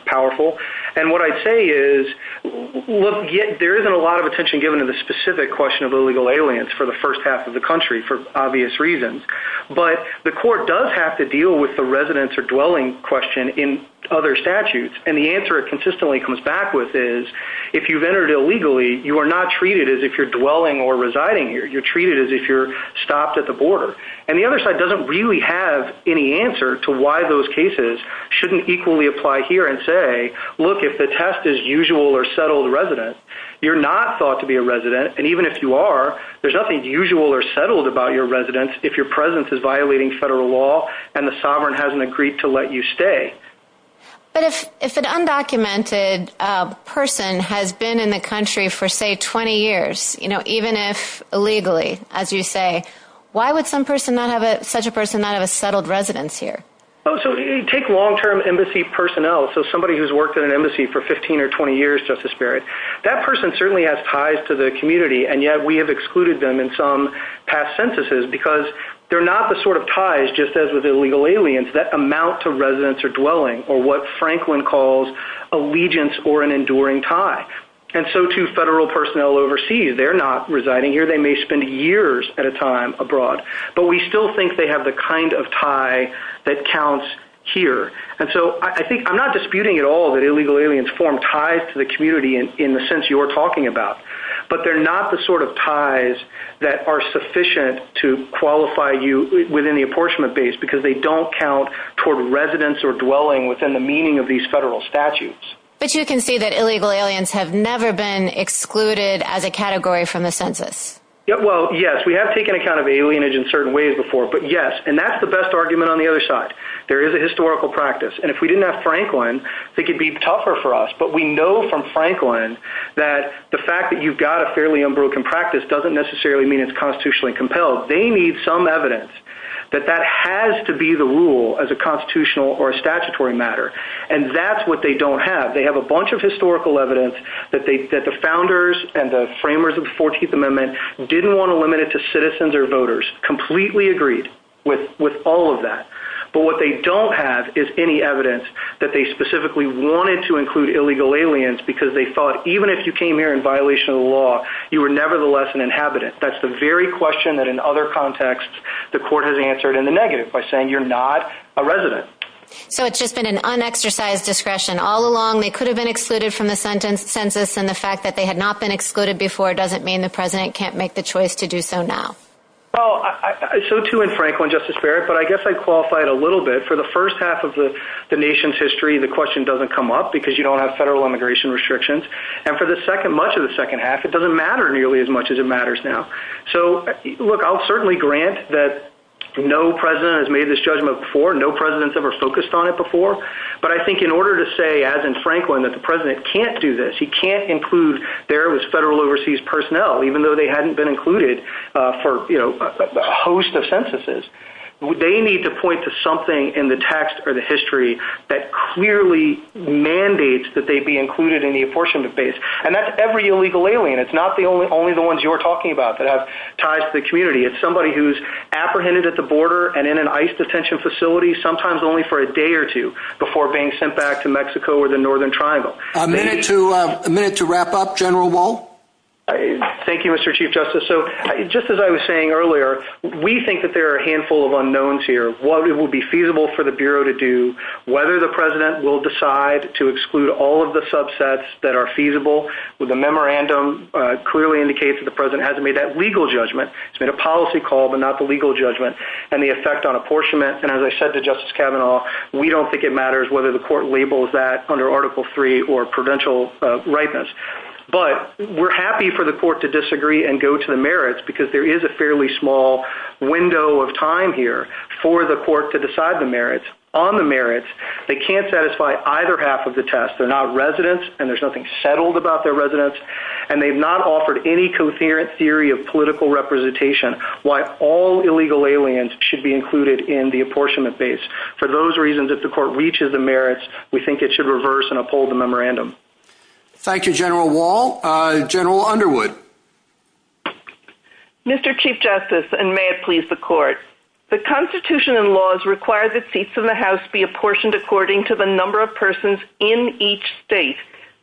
powerful. And what I say is, look, there isn't a lot of attention given to the specific question of illegal aliens for the first half of the country for obvious reasons. But the court does have to deal with the residence or dwelling question in other statutes. And the answer it consistently comes back with is, if you've entered illegally, you are not treated as if you're dwelling or residing here. You're treated as if you're stopped at the border. And the other side doesn't really have any answer to why those cases shouldn't equally apply here and say, look, if the test is usual or settled resident, you're not thought to be a resident. And even if you are, there's nothing usual or settled about your residence if your presence is violating federal law and the sovereign hasn't agreed to let you stay. But if an undocumented person has been in the country for, say, 20 years, even if illegally, as you say, why would such a person not have a settled residence here? So take long-term embassy personnel, so somebody who's worked at an embassy for 15 or 20 years, Justice Barrett. That person certainly has ties to the community, and yet we have excluded them in some past sentences because they're not the sort of ties just as with illegal aliens that amount to residence or dwelling or what Franklin calls allegiance or an enduring tie. And so to federal personnel overseas, they're not residing here. They may spend years at a time abroad, but we still think they have the kind of tie that counts here. And so I think I'm not disputing at all that illegal aliens form ties to the community in the sense you're talking about, but they're not the sort of ties that are sufficient to qualify you within the apportionment base because they don't count toward residence or dwelling within the meaning of these federal statutes. But you can see that illegal aliens have never been excluded as a category from the census. Well, yes, we have taken account of alienage in certain ways before, but yes, and that's the best argument on the other side. There is a historical practice, and if we didn't have Franklin, it could be tougher for us. But we know from Franklin that the fact that you've got a fairly unbroken practice doesn't necessarily mean it's constitutionally compelled. They need some evidence that that has to be the rule as a constitutional or statutory matter. And that's what they don't have. They have a bunch of historical evidence that the founders and the framers of the 14th Amendment didn't want to limit it to citizens or voters, completely agreed with all of that. But what they don't have is any evidence that they specifically wanted to include illegal aliens because they thought even if you came here in violation of the law, you were nevertheless an inhabitant. That's the very question that in other contexts the court has answered in the negative by saying you're not a resident. So it's just been an unexercised discretion all along. They could have been excluded from the census, and the fact that they had not been excluded before doesn't mean the President can't make the choice to do so now. So, too, in Franklin, Justice Barrett, but I guess I qualified a little bit. For the first half of the nation's history, the question doesn't come up because you don't have federal immigration restrictions. And for much of the second half, it doesn't matter nearly as much as it matters now. So, look, I'll certainly grant that no President has made this judgment before, no President's ever focused on it before. But I think in order to say, as in Franklin, that the President can't do this, he can't include there this federal overseas personnel, even though they hadn't been included for a host of censuses, they need to point to something in the text or the history that clearly mandates that they be included in the abortion debates. And that's every illegal alien. It's not only the ones you were talking about that have ties to the community. It's somebody who's apprehended at the border and in an ICE detention facility, sometimes only for a day or two, before being sent back to Mexico or the Northern Triangle. A minute to wrap up. General Wolfe? Thank you, Mr. Chief Justice. So just as I was saying earlier, we think that there are a handful of unknowns here. What it will be feasible for the Bureau to do, whether the President will decide to exclude all of the subsets that are feasible with a memorandum, clearly indicates that the President hasn't made that legal judgment. It's been a policy call, but not the legal judgment and the effect on apportionment. And as I said to Justice Kavanaugh, we don't think it matters whether the court labels that under article three or provincial rightness, but we're happy for the court to disagree and go to the merits because there is a fairly small window of time here for the court to decide the merits. On the merits, they can't satisfy either half of the test. They're not residents and there's nothing settled about their residents. And they've not offered any coherent theory of political representation, why all illegal aliens should be included in the apportionment base. For those reasons, if the court reaches the merits, we think it should reverse and uphold the memorandum. Thank you, General Wall. General Underwood? Mr. Chief Justice, and may it please the court. The constitution and laws require the seats in the house be apportioned according to the number of persons in each state.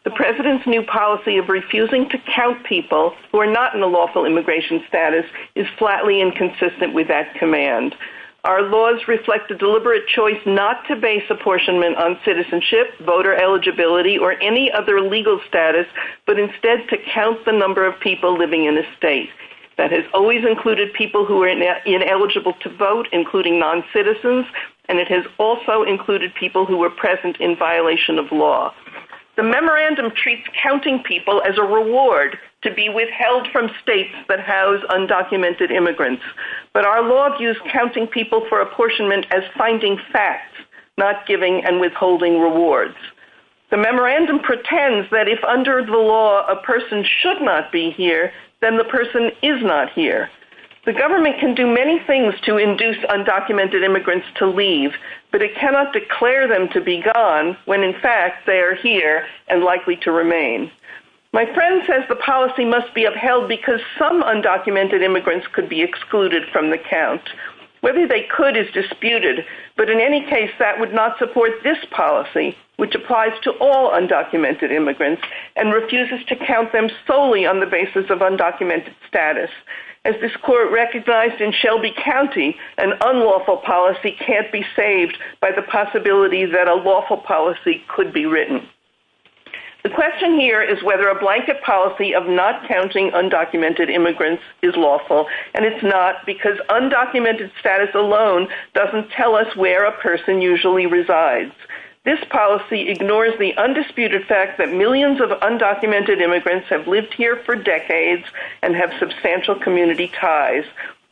The President's new policy of refusing to count people who are not in the lawful immigration status is flatly inconsistent with that command. Our laws reflect the deliberate choice not to base apportionment on citizenship, voter eligibility, or any other legal status, but instead to count the number of people living in a state. That has always included people who are ineligible to vote, including noncitizens, and it has also included people who were present in violation of law. The memorandum treats counting people as a reward to be withheld from states that house undocumented immigrants. But our law views counting people for apportionment as finding facts, not giving and withholding rewards. The memorandum pretends that if under the law a person should not be here, then the person is not here. The government can do many things to induce undocumented immigrants to leave, but it cannot declare them to be gone when, in fact, they are here and likely to remain. My friend says the policy must be upheld because some undocumented immigrants could be excluded from the count. Whether they could is disputed, but in any case, that would not support this policy, which applies to all undocumented immigrants and refuses to count them solely on the basis of undocumented status. As this court recognized in Shelby County, an unlawful policy can't be saved by the possibility that a lawful policy could be written. The question here is whether a blanket policy of not counting undocumented immigrants is lawful, and it's not because undocumented status alone doesn't tell us where a person usually resides. This policy ignores the undisputed fact that millions of undocumented immigrants have lived here for decades and have substantial community ties.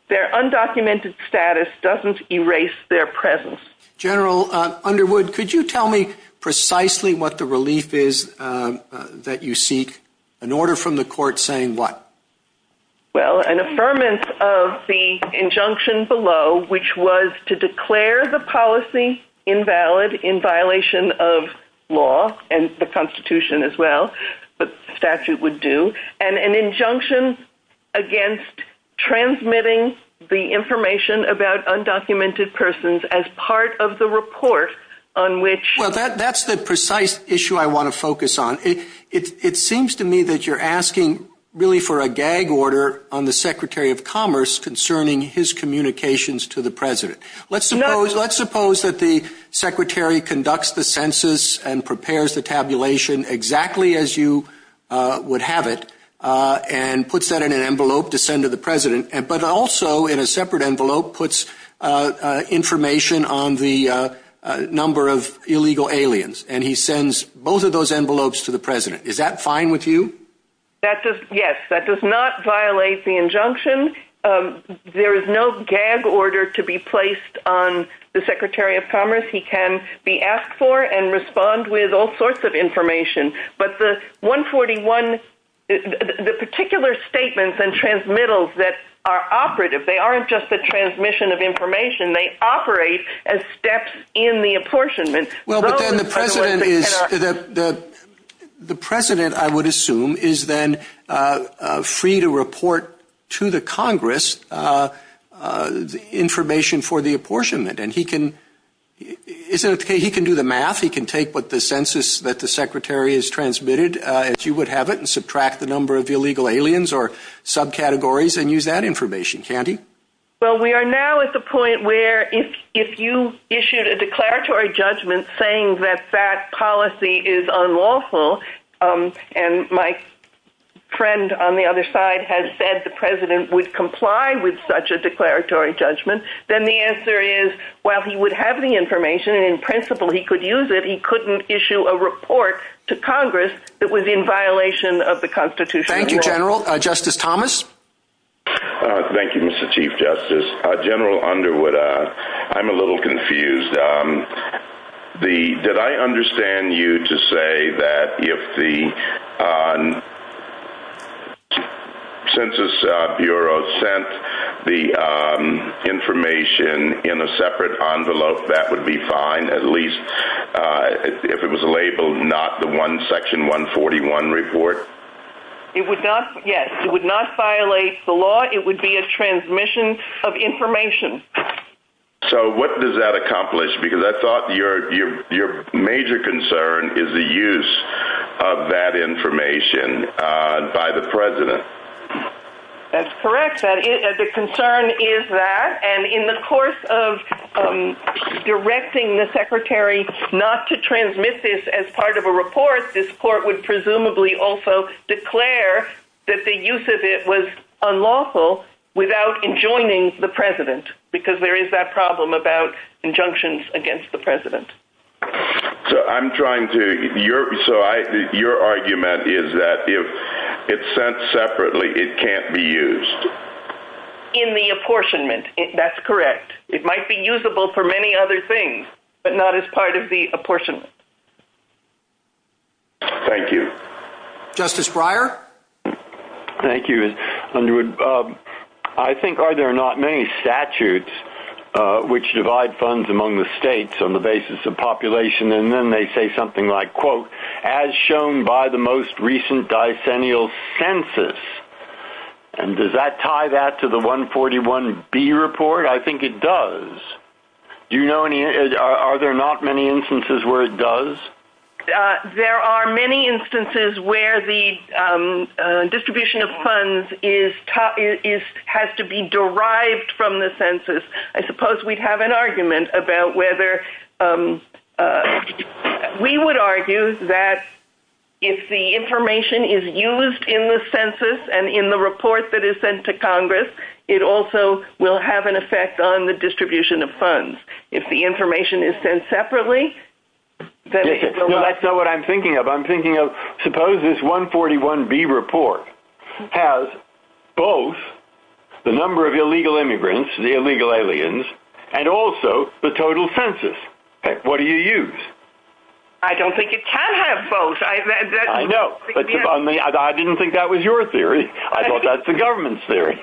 Their undocumented status doesn't erase their presence. General Underwood, could you tell me precisely what the relief is that you seek? An order from the court saying what? Well, an affirmance of the injunction below, which was to declare the policy invalid in violation of law and the constitution as well, but statute would do and an injunction against transmitting the information about undocumented persons as part of the report on which that's the precise issue. I want to focus on it. It seems to me that you're asking really for a gag order on the secretary of commerce concerning his communications to the president. Let's suppose that the secretary conducts the census and prepares the tabulation exactly as you would have it, and puts that in an envelope to send to the president, but also in a separate envelope puts information on the number of illegal aliens. And he sends both of those envelopes to the president. Is that fine with you? That does. Yes. That does not violate the injunction. There is no gag order to be placed on the secretary of commerce. He can be asked for and respond with all sorts of information, but the one 41, the particular statements and transmittals that are operative, they aren't just the transmission of information. They operate as steps in the apportionment. The president, I would assume, is then free to report to the Congress information for the apportionment. And he can do the math. He can take what the census that the secretary has transmitted, as you would have it, and subtract the number of illegal aliens or subcategories and use that information. Well, we are now at the point where if, if you issued a declaratory judgment saying that that policy is unlawful, and my friend on the other side has said, the president would comply with such a declaratory judgment. Then the answer is, well, he would have the information in principle. He could use it. He couldn't issue a report to Congress that was in violation of the constitution. Thank you. General justice Thomas. Thank you, Mr. Chief justice general under what I'm a little confused. The, did I understand you to say that if the census Bureau sent the information in a separate envelope, that would be fine. At least if it was a label, not the one section one 41 report. It would not. Yes. It would not violate the law. It would be a transmission of information. So what does that accomplish? Because I thought your, your major concern is the use of that information by the president. That's correct. The concern is that, and in the course of directing the secretary, not to transmit this as part of a report, this court would presumably also declare that the use of it was unlawful without enjoining the president, because there is that problem about injunctions against the president. So I'm trying to Europe. So I, your argument is that if it's sent separately, it can't be used in the apportionment. That's correct. It might be usable for many other things, but not as part of the apportionment. Thank you. Justice Breyer. Thank you. Underwood. I think, are there not many statutes which divide funds among the states on the basis of population? And then they say something like quote, as shown by the most recent dice annual census. And does that tie that to the one 41 B report? I think it does. Do you know any, are there not many instances where it does? There are many instances where the distribution of funds is top is, has to be derived from the census. I suppose we'd have an argument about whether we would argue that. If the information is used in the census and in the report that is sent to Congress, it also will have an effect on the distribution of funds. If the information is sent separately. That's not what I'm thinking of. I'm thinking of suppose this one 41 B report has both. The number of illegal immigrants, the illegal aliens, and also the total census. What do you use? I don't think it can have both. I know. I didn't think that was your theory. I thought that's the government's theory.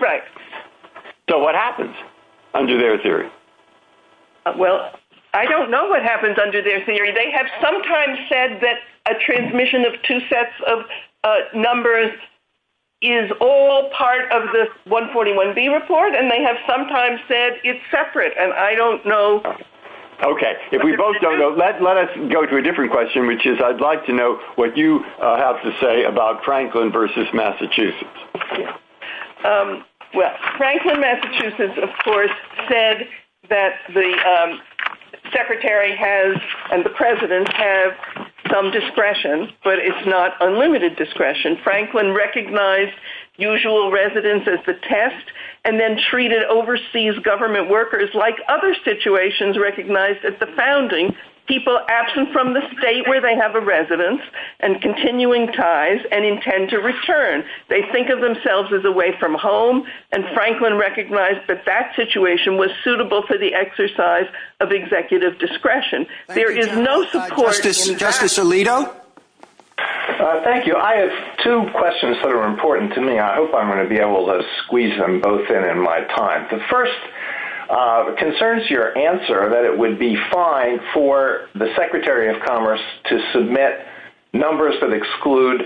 Right. So what happens under their theory? Well, I don't know what happens under their theory. They have sometimes said that a transmission of two sets of numbers. Is all part of the one 41 B report. And they have sometimes said it's separate. And I don't know. Okay. If we both don't know, let, let us go to a different question, which is I'd like to know what you have to say about Franklin versus Massachusetts. Well, Franklin Massachusetts of course said that the secretary has, and the president has some discretion, but it's not unlimited discretion. Franklin recognized usual residents as the test and then treated overseas government workers like other situations, recognized that the founding people absent from the state where they have a residence and continuing ties and intend to return. They think of themselves as away from home and Franklin recognized that that situation was suitable for the exercise of executive discretion. There is no support. Justice Alito. Thank you. I have two questions that are important to me. I hope I'm going to be able to squeeze them both in, in my time. The first concerns, your answer that it would be fine for the secretary of commerce to submit numbers that exclude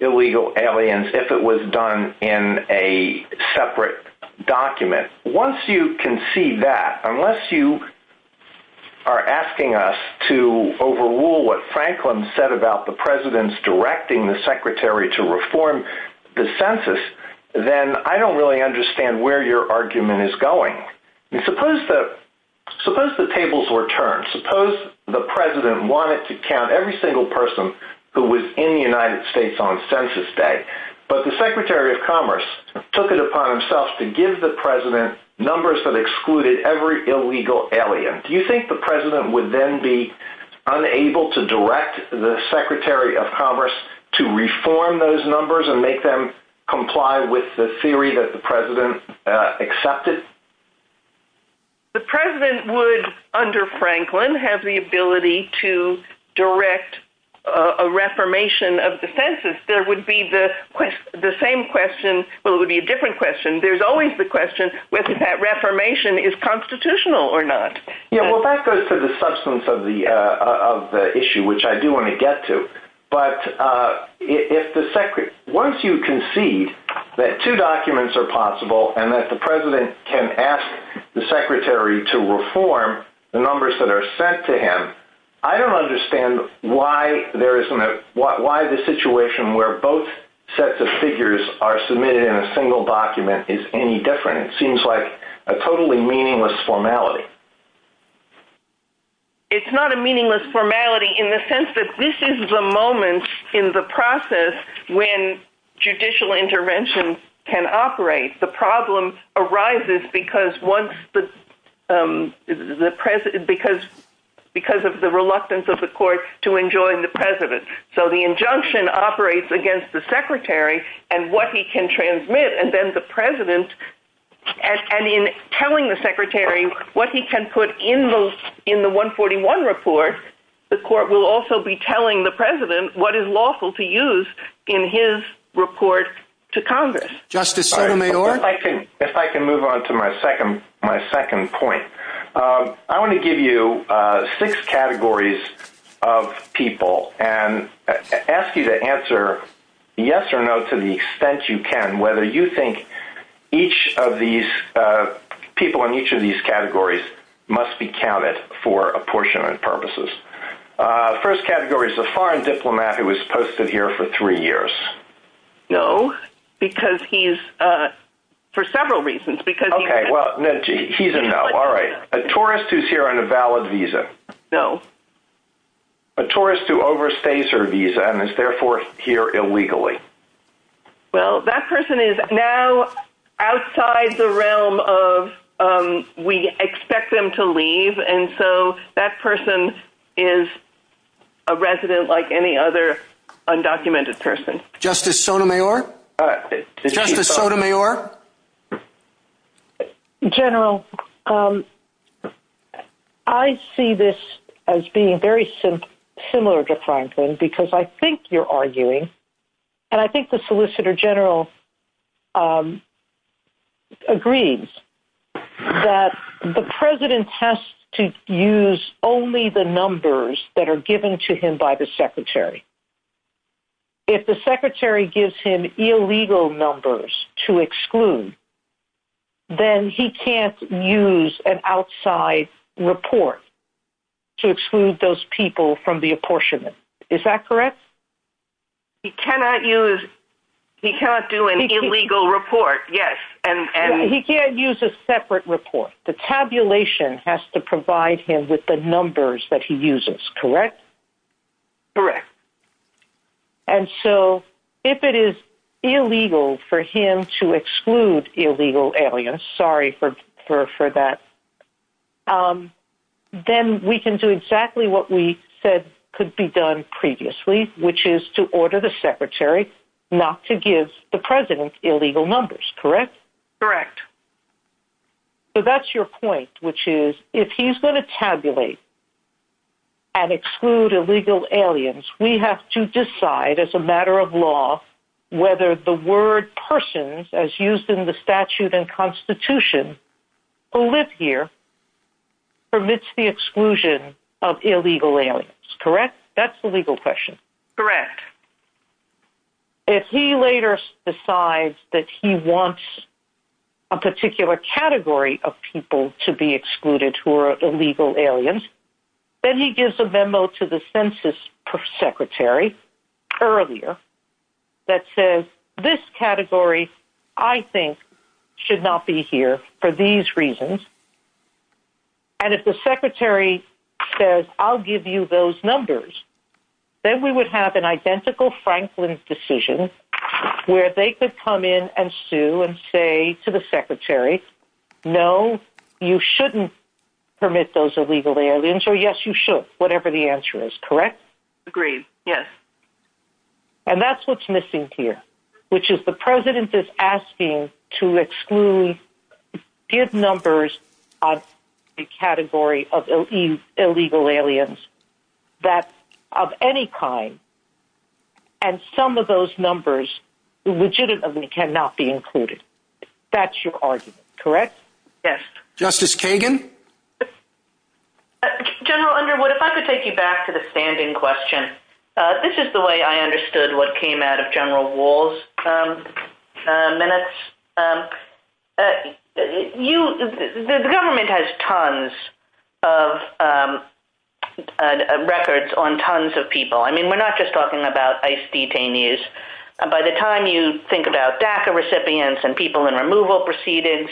illegal aliens. If it was done in a separate document, once you can see that, unless you are asking us to overrule what Franklin said about the president's directing the secretary to reform the census, then I don't really understand where your argument is going. And suppose that suppose the tables were turned, suppose the president wanted to count every single person who was in the United States on census day, but the secretary of commerce took it upon himself to give the president numbers that excluded every illegal alien. Do you think the president would then be unable to direct the secretary of commerce? To comply with the theory that the president accepted. The president would under Franklin have the ability to direct a reformation of the census. There would be the same question, but it would be a different question. There's always the question with that reformation is constitutional or not. Yeah. Well, that goes to the substance of the, of the issue, which I do want to get to. But if the secretary, once you concede that two documents are possible and that the president can ask the secretary to reform the numbers that are sent to him, I don't understand why there isn't a, why, why the situation where both sets of figures are submitted in a single document is any different. It seems like a totally meaningless formality. It's not a meaningless formality in the sense that this is the moment. In the process, when judicial intervention can operate, the problem arises because once the president, because, because of the reluctance of the court to enjoy the president. So the injunction operates against the secretary and what he can transmit. And then the president. And in telling the secretary what he can put in those in the one 41 report, the court will also be telling the president what is lawful to use in his report to Congress. If I can move on to my second, my second point, I want to give you six categories of people and ask you to answer yes or no. To the extent you can, whether you think each of these people in each of these categories must be counted for apportionment purposes. First category is a foreign diplomat who was posted here for three years. No, because he's for several reasons because he's a tourist who's here on a valid visa. No. A tourist who overstays her visa and is therefore here illegally. Well, that person is now outside the realm of, we expect them to leave. And so that person is a resident like any other undocumented person. Justice Sotomayor. General. I see this as being very similar to Franklin, because I think you're arguing and I think the solicitor general agrees that the president has to use only the numbers that are given to him by the secretary. If the secretary gives him illegal numbers to exclude, then he can't use an outside report to exclude those people from the country. Is that correct? He cannot use, he can't do an illegal report. Yes. And he can't use a separate report. The tabulation has to provide him with the numbers that he uses. Correct. Correct. And so if it is illegal for him to exclude illegal aliens, sorry for, for, for that. Then we can do exactly what we said could be done previously, which is to order the secretary not to give the president illegal numbers. Correct. Correct. So that's your point, which is if he's going to tabulate and exclude illegal aliens, we have to decide as a matter of law, whether the word persons as used in the statute and constitution, who live here permits the exclusion of illegal aliens. Correct. That's the legal question. Correct. If he later decides that he wants a particular category of people to be excluded, who are illegal aliens, then he gives a memo to the census secretary earlier that says this category, I think should not be here for these reasons. And if the secretary says, I'll give you those numbers, then we would have an identical Franklin's decision where they could come in and sue and say to the secretary, no, you shouldn't permit those illegal aliens or yes, you should, whatever the answer is. Correct. Agreed. Yes. And that's, what's missing here, which is the president is asking to exclude give numbers on the category of illegal aliens that of any kind. And some of those numbers legitimately cannot be included. That's your argument. Correct. Yes. Justice Kagan. General Underwood, if I could take you back to the standing question, this is the way I understood what came out of general walls. You, the government has tons of records on tons of people. I mean, we're not just talking about ice detainees. By the time you think about DACA recipients and people in removal proceedings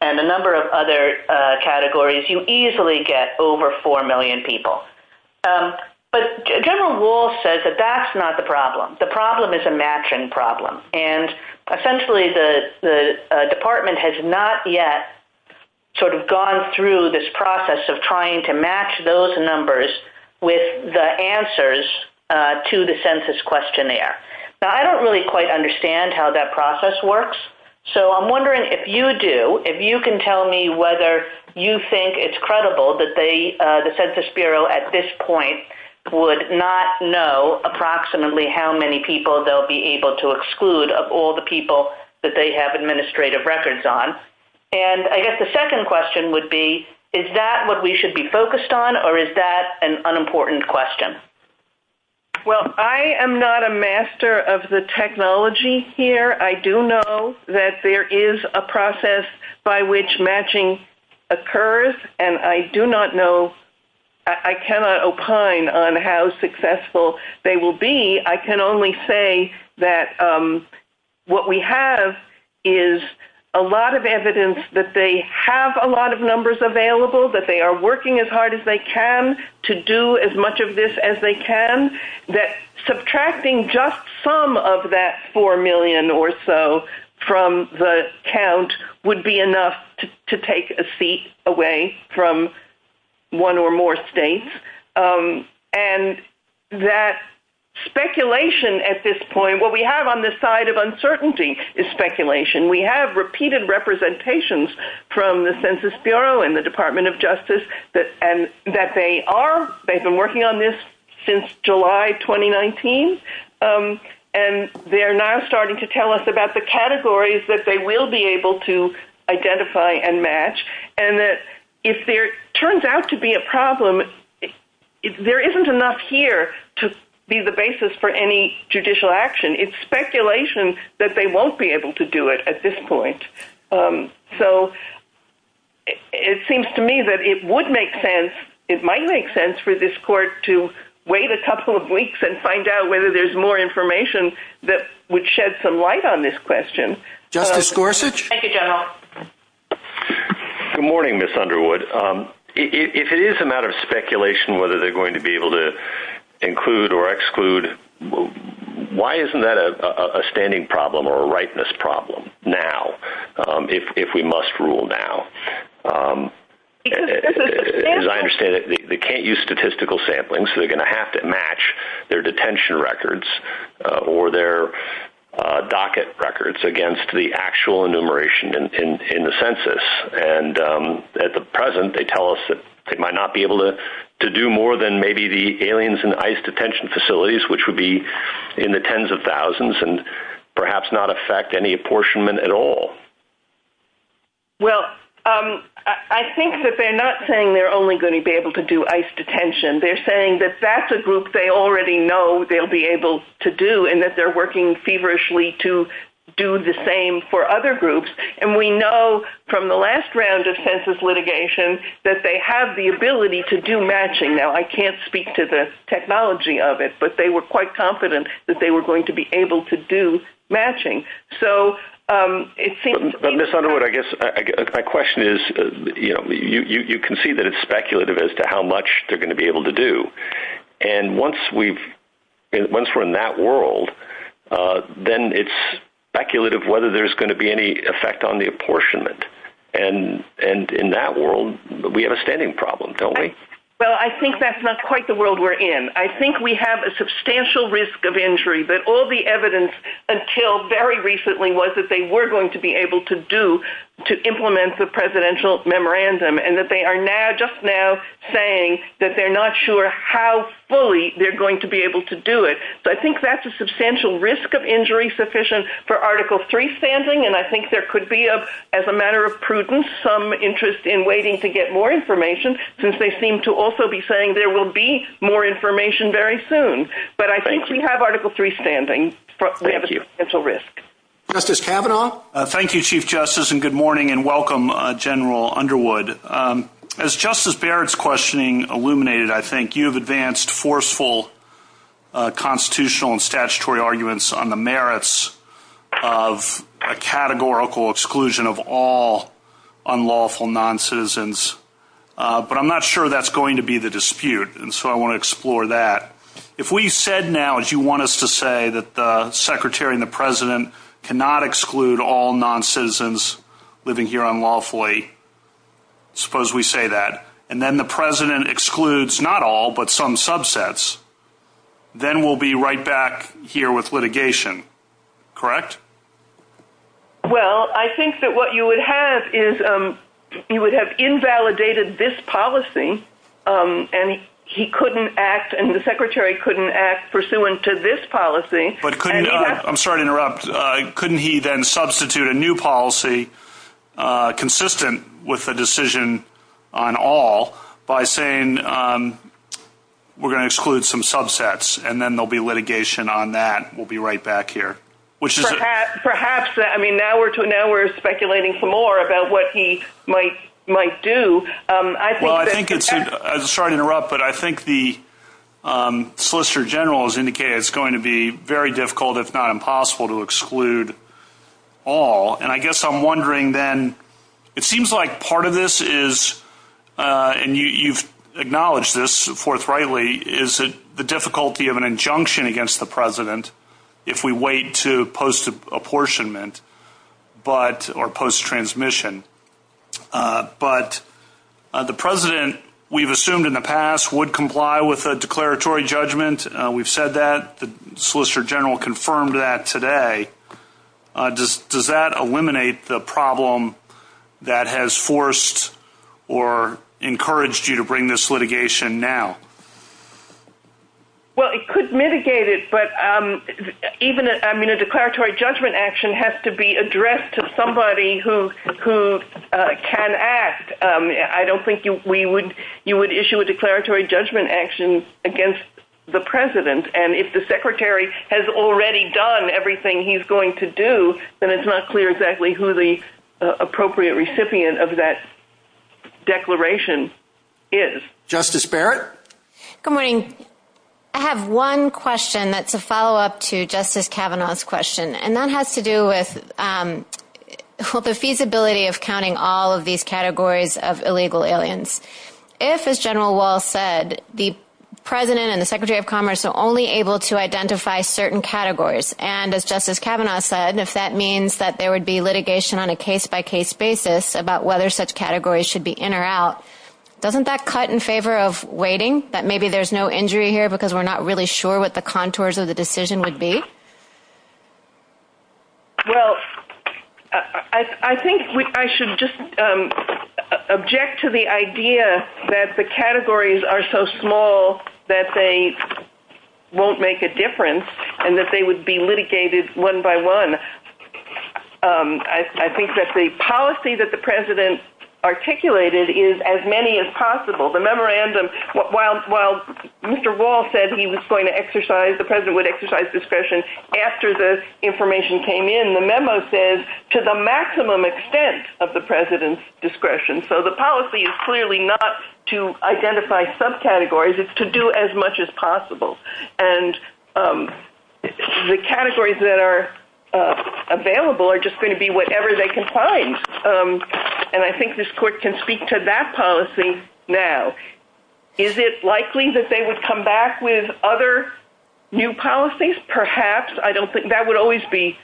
and a number of other categories, you easily get over 4 million people. But general wall says that that's not the problem. The problem is a matching problem. And essentially the, the department has not yet sort of gone through this process of trying to match those numbers with the answers to the census questionnaire. Now I don't really quite understand how that process works. So I'm wondering if you do, if you can tell me whether you think it's credible that they, the census Bureau at this point would not know approximately how many people they'll be able to exclude of all the people that they have administrative records on. And I guess the second question would be, is that what we should be focused on or is that an unimportant question? Well, I am not a master of the technology here. I do know that there is a process by which matching occurs. And I do not know, I cannot opine on how successful they will be. I can only say that what we have is a lot of evidence that they have a lot of numbers available, that they are working as hard as they can to do as much of this as they can, that subtracting just some of that 4 million or so from the count would be a seat away from one or more states. And that speculation at this point, what we have on this side of uncertainty is speculation. We have repeated representations from the census Bureau and the department of justice that, and that they are, they've been working on this since July, 2019. And they're now starting to tell us about the categories that they will be able to identify and match. And that if there turns out to be a problem, if there isn't enough here to be the basis for any judicial action, it's speculation that they won't be able to do it at this point. So it seems to me that it would make sense. It might make sense for this court to wait a couple of weeks and find out whether there's more information that would shed some light on this question. Justice Gorsuch. Good morning, Miss Underwood. If it is a matter of speculation, whether they're going to be able to include or exclude, why isn't that a standing problem or a rightness problem now? If we must rule now, they can't use statistical sampling. So they're going to have to match their detention records or their docket records against the actual enumeration in the census. And at the present, they tell us that they might not be able to do more than maybe the aliens and ice detention facilities, which would be in the tens of thousands and perhaps not affect any apportionment at all. Well, I think that they're not saying they're only going to be able to do ice detention. They're saying that that's a group they already know they'll be able to do and that they're working feverishly to do the same for other groups. And we know from the last round of census litigation, that they have the ability to do matching. Now I can't speak to the technology of it, but they were quite confident that they were going to be able to do matching. So it seems. But Miss Underwood, I guess my question is, you know, you can see that it's speculative as to how much they're going to be able to do. And once we've, once we're in that world, then it's speculative whether there's going to be any effect on the apportionment. And, and in that world, we have a standing problem, don't we? Well, I think that's not quite the world we're in. I think we have a substantial risk of injury, but all the evidence until very recently was that they were going to be able to do, to implement the presidential memorandum and that they are now just now saying that they're not sure how fully they're going to be able to do it. So I think that's a substantial risk of injury sufficient for article three standing. And I think there could be a, as a matter of prudence, some interest in waiting to get more information since they seem to also be saying there will be more information very soon. But I think we have article three standing for potential risk. Justice Kavanaugh. Thank you, chief justice and good morning and welcome general Underwood. As justice Barrett's questioning illuminated, I think you've advanced forceful constitutional and statutory arguments on the merits of a categorical exclusion of all unlawful non-citizens. But I'm not sure that's going to be the dispute. And so I want to explore that. If we said now, as you want us to say that the secretary and the president cannot exclude all non-citizens living here unlawfully, suppose we say that, and then the president excludes not all, but some subsets, then we'll be right back here with litigation. Correct? Well, I think that what you would have is you would have invalidated this policy. And he couldn't act. And the secretary couldn't act pursuant to this policy. I'm sorry to interrupt. Couldn't he then substitute a new policy consistent with the exclusion of all by saying, um, we're going to exclude some subsets and then there'll be litigation on that. We'll be right back here. Which is perhaps that, I mean, now we're doing, now we're speculating some more about what he might, might do. Um, well, I think it's, I'm sorry to interrupt, but I think the, um, solicitor general has indicated it's going to be very difficult, if not impossible to exclude all. And I guess I'm wondering then, it seems like part of this is, uh, and you, you've acknowledged this forthrightly is that the difficulty of an injunction against the president, if we wait to post apportionment, but or post transmission, uh, but, uh, the president we've assumed in the past would comply with a declaratory judgment. Uh, we've said that the solicitor general confirmed that today, uh, does, does that eliminate the problem that has forced or encouraged you to bring this litigation now? Well, it could mitigate it, but, um, even, I mean, a declaratory judgment action has to be addressed to somebody who, who can act. Um, I don't think you, we would, you would issue a declaratory judgment action against the president. And if the secretary has already done everything he's going to do, then it's not clear exactly who the appropriate recipient of that declaration is. Justice Barrett. Good morning. I have one question that's a followup to justice Cavanaugh's question, and that has to do with, um, the feasibility of counting all of these categories of illegal aliens. If as general wall said, the president and the secretary of commerce are only able to identify certain categories. And as justice Cavanaugh said, if that means that there would be litigation on a case by case basis about whether such categories should be in or out, doesn't that cut in favor of waiting that maybe there's no injury here because we're not really sure what the contours of the decision would be. Well, I think I should just, um, the idea that the categories are so small that they won't make a difference and that they would be litigated one by one. Um, I, I think that the policy that the president articulated is as many as possible. The memorandum while, while Mr. Wall said he was going to exercise, the president would exercise discretion after this information came in. The memo says to the maximum extent of the president's discretion. So the policy is clearly not to identify subcategories. It's to do as much as possible. And, um, the categories that are available are just going to be whatever they can find. Um, and I think this court can speak to that policy. Now, is it likely that they would come back with other new policies? Perhaps I don't think that would always be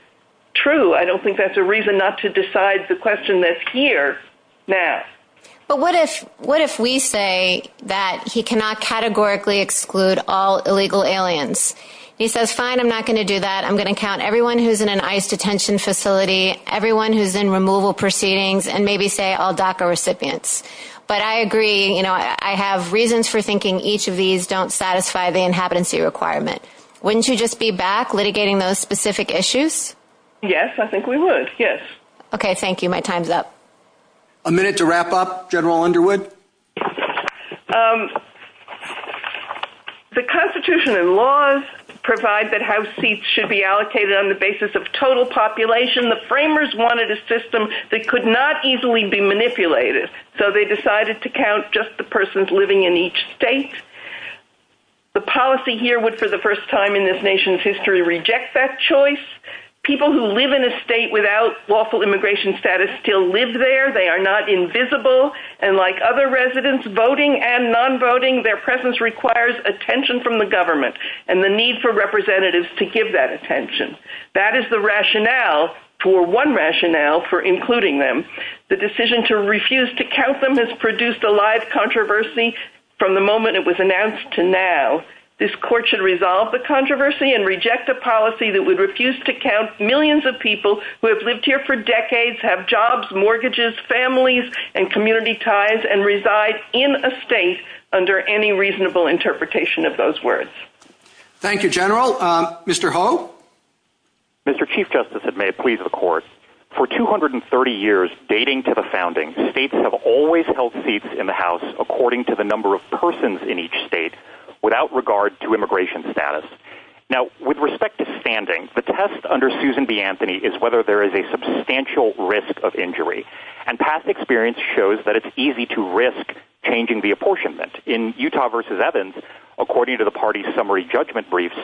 true. I don't think that's a reason not to decide the question that's here now. But what if, what if we say that he cannot categorically exclude all illegal aliens? He says, fine, I'm not going to do that. I'm going to count everyone who's in an ICE detention facility, everyone who's in removal proceedings, and maybe say all DACA recipients. But I agree. You know, I have reasons for thinking each of these don't satisfy the inhabitancy requirements. Wouldn't you just be back litigating those specific issues? Yes, I think we would. Yes. Okay. Thank you. My time's up. A minute to wrap up general Underwood. The constitution and laws provide that house seats should be allocated on the basis of total population. The framers wanted a system that could not easily be manipulated. So they decided to count just the persons living in each state. They rejected that choice. People who live in a state without lawful immigration status still live there. They are not invisible. And like other residents voting and non-voting, their presence requires attention from the government and the need for representatives to give that attention. That is the rationale for one rationale for including them. The decision to refuse to count them has produced a live controversy from the moment it was announced to now this court should resolve the controversy and reject a policy that would refuse to count millions of people who have lived here for decades, have jobs, mortgages, families and community ties and reside in a state under any reasonable interpretation of those words. Thank you, general. Mr. Ho. Mr. Chief justice, it may please the court for 230 years, dating to the founding. States have always held seats in the house according to the number of persons in each state without regard to immigration status. Now with respect to standing, the test under Susan B. Anthony is whether there is a substantial risk of injury and past experience shows that it's easy to risk changing the apportionment in Utah versus Evans. According to the party summary, judgment briefs,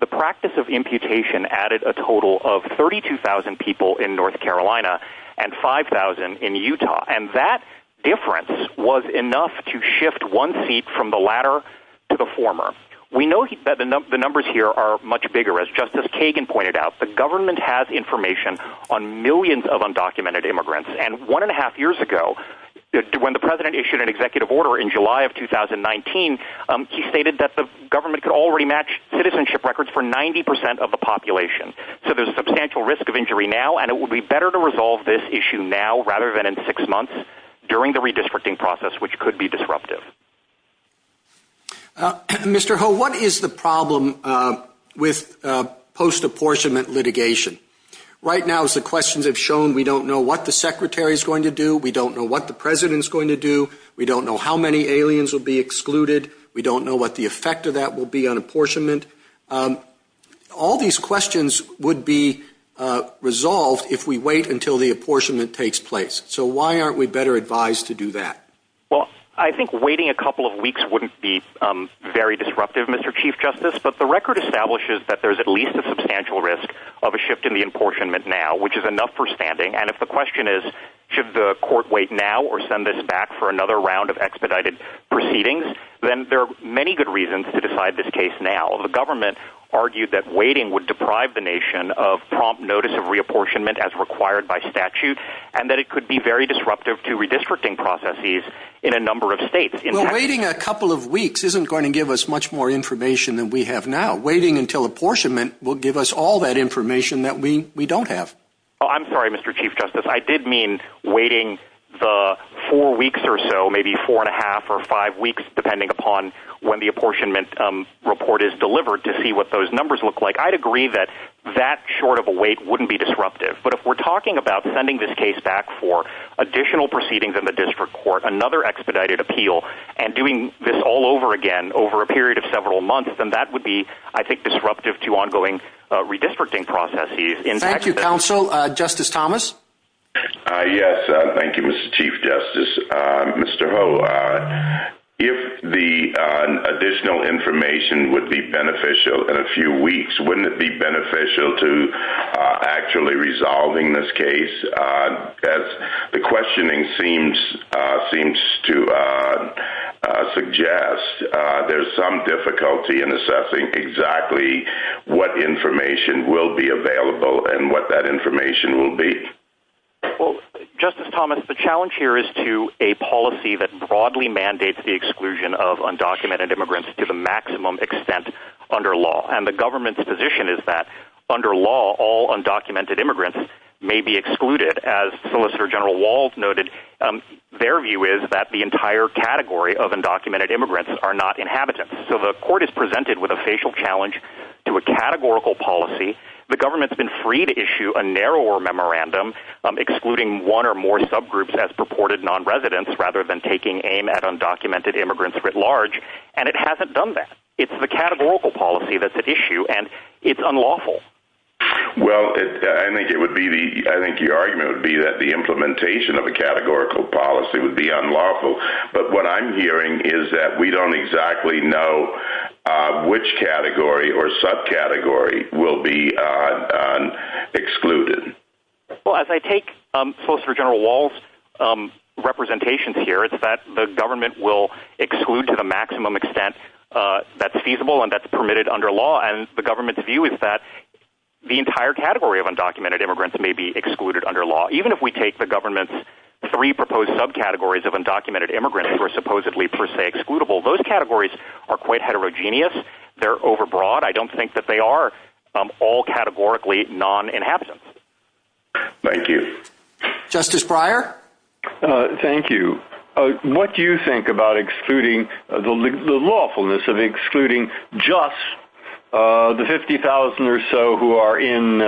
the practice of imputation added a total of 32,000 people in North Carolina and 5,000 in Utah. And that difference was enough to shift one seat from the latter to the former. We know that the numbers here are much bigger as justice Kagan pointed out, the government has information on millions of undocumented immigrants. And one and a half years ago when the president issued an executive order in July of 2019, he stated that the government could already match citizenship records for 90% of the population. So there's substantial risk of injury now, and it would be better to resolve this issue now rather than in six months during the redistricting process, which could be disruptive. Mr. Ho, what is the problem with post apportionment litigation? Right now is the questions have shown. We don't know what the secretary is going to do. We don't know what the president is going to do. We don't know how many aliens will be excluded. We don't know what the effect of that will be on apportionment. All these questions would be resolved if we wait until the apportionment takes place. So why aren't we better advised to do that? Well, I think waiting a couple of weeks wouldn't be very disruptive, Mr. Chief justice, but the record establishes that there's at least a substantial risk of a shift in the apportionment now, which is enough for standing. And if the question is should the court wait now or send this back for another round of expedited proceedings, then there are many good reasons to decide this case. Now the government argued that waiting would deprive the nation of prompt notice of reapportionment as required by statute, and that it could be very disruptive to redistricting processes in a number of states. Waiting a couple of weeks isn't going to give us much more information than we have now. Waiting until apportionment will give us all that information that we, we don't have. Oh, I'm sorry, Mr. Chief justice. I did mean waiting the four weeks or so, maybe four and a half or five weeks, depending upon when the apportionment report is delivered to see what those numbers look like. I'd agree that that short of a wait wouldn't be disruptive, but if we're talking about sending this case back for additional proceedings in the district court, another expedited appeal and doing this all over again over a period of several months, then that would be, I think, disruptive to ongoing redistricting processes. Thank you, counsel. Justice Thomas. Yes. Thank you, Mr. Chief justice. Mr. If the additional information would be beneficial in a few weeks, wouldn't it be beneficial to actually resolving this case? That's the questioning seems, seems to suggest there's some difficulty in assessing exactly what information will be available and what that information will be. Well, justice Thomas, the challenge here is to a policy that broadly mandates the exclusion of undocumented immigrants to the maximum extent under law. And the government's position is that under law, all undocumented immigrants may be excluded as solicitor general wall noted. Their view is that the entire category of undocumented immigrants are not inhabited. So the court is presented with a facial challenge to a categorical policy. The government's been free to issue a narrower memorandum, excluding one or more subgroups as purported non-residents rather than taking aim at undocumented immigrants writ large. And it hasn't done that. It's the categorical policy that's at issue and it's unlawful. Well, I think it would be the, I think your argument would be that the implementation of a categorical policy would be unlawful. But what I'm hearing is that we don't exactly know which category or subcategory will be excluded. Well, as I take a solicitor general walls representations here, it's that the government will exclude to the maximum extent that's feasible. And that's permitted under law. And the government's view is that the entire category of undocumented immigrants may be excluded under law. Even if we take the government's three proposed subcategories of undocumented immigrants were supposedly per se excludable. Those categories are quite heterogeneous. They're overbroad. I don't think that they are all categorically non-inhabitants. Thank you, justice Breyer. Thank you. What do you think about excluding the lawfulness of excluding just the 50,000 or so who are in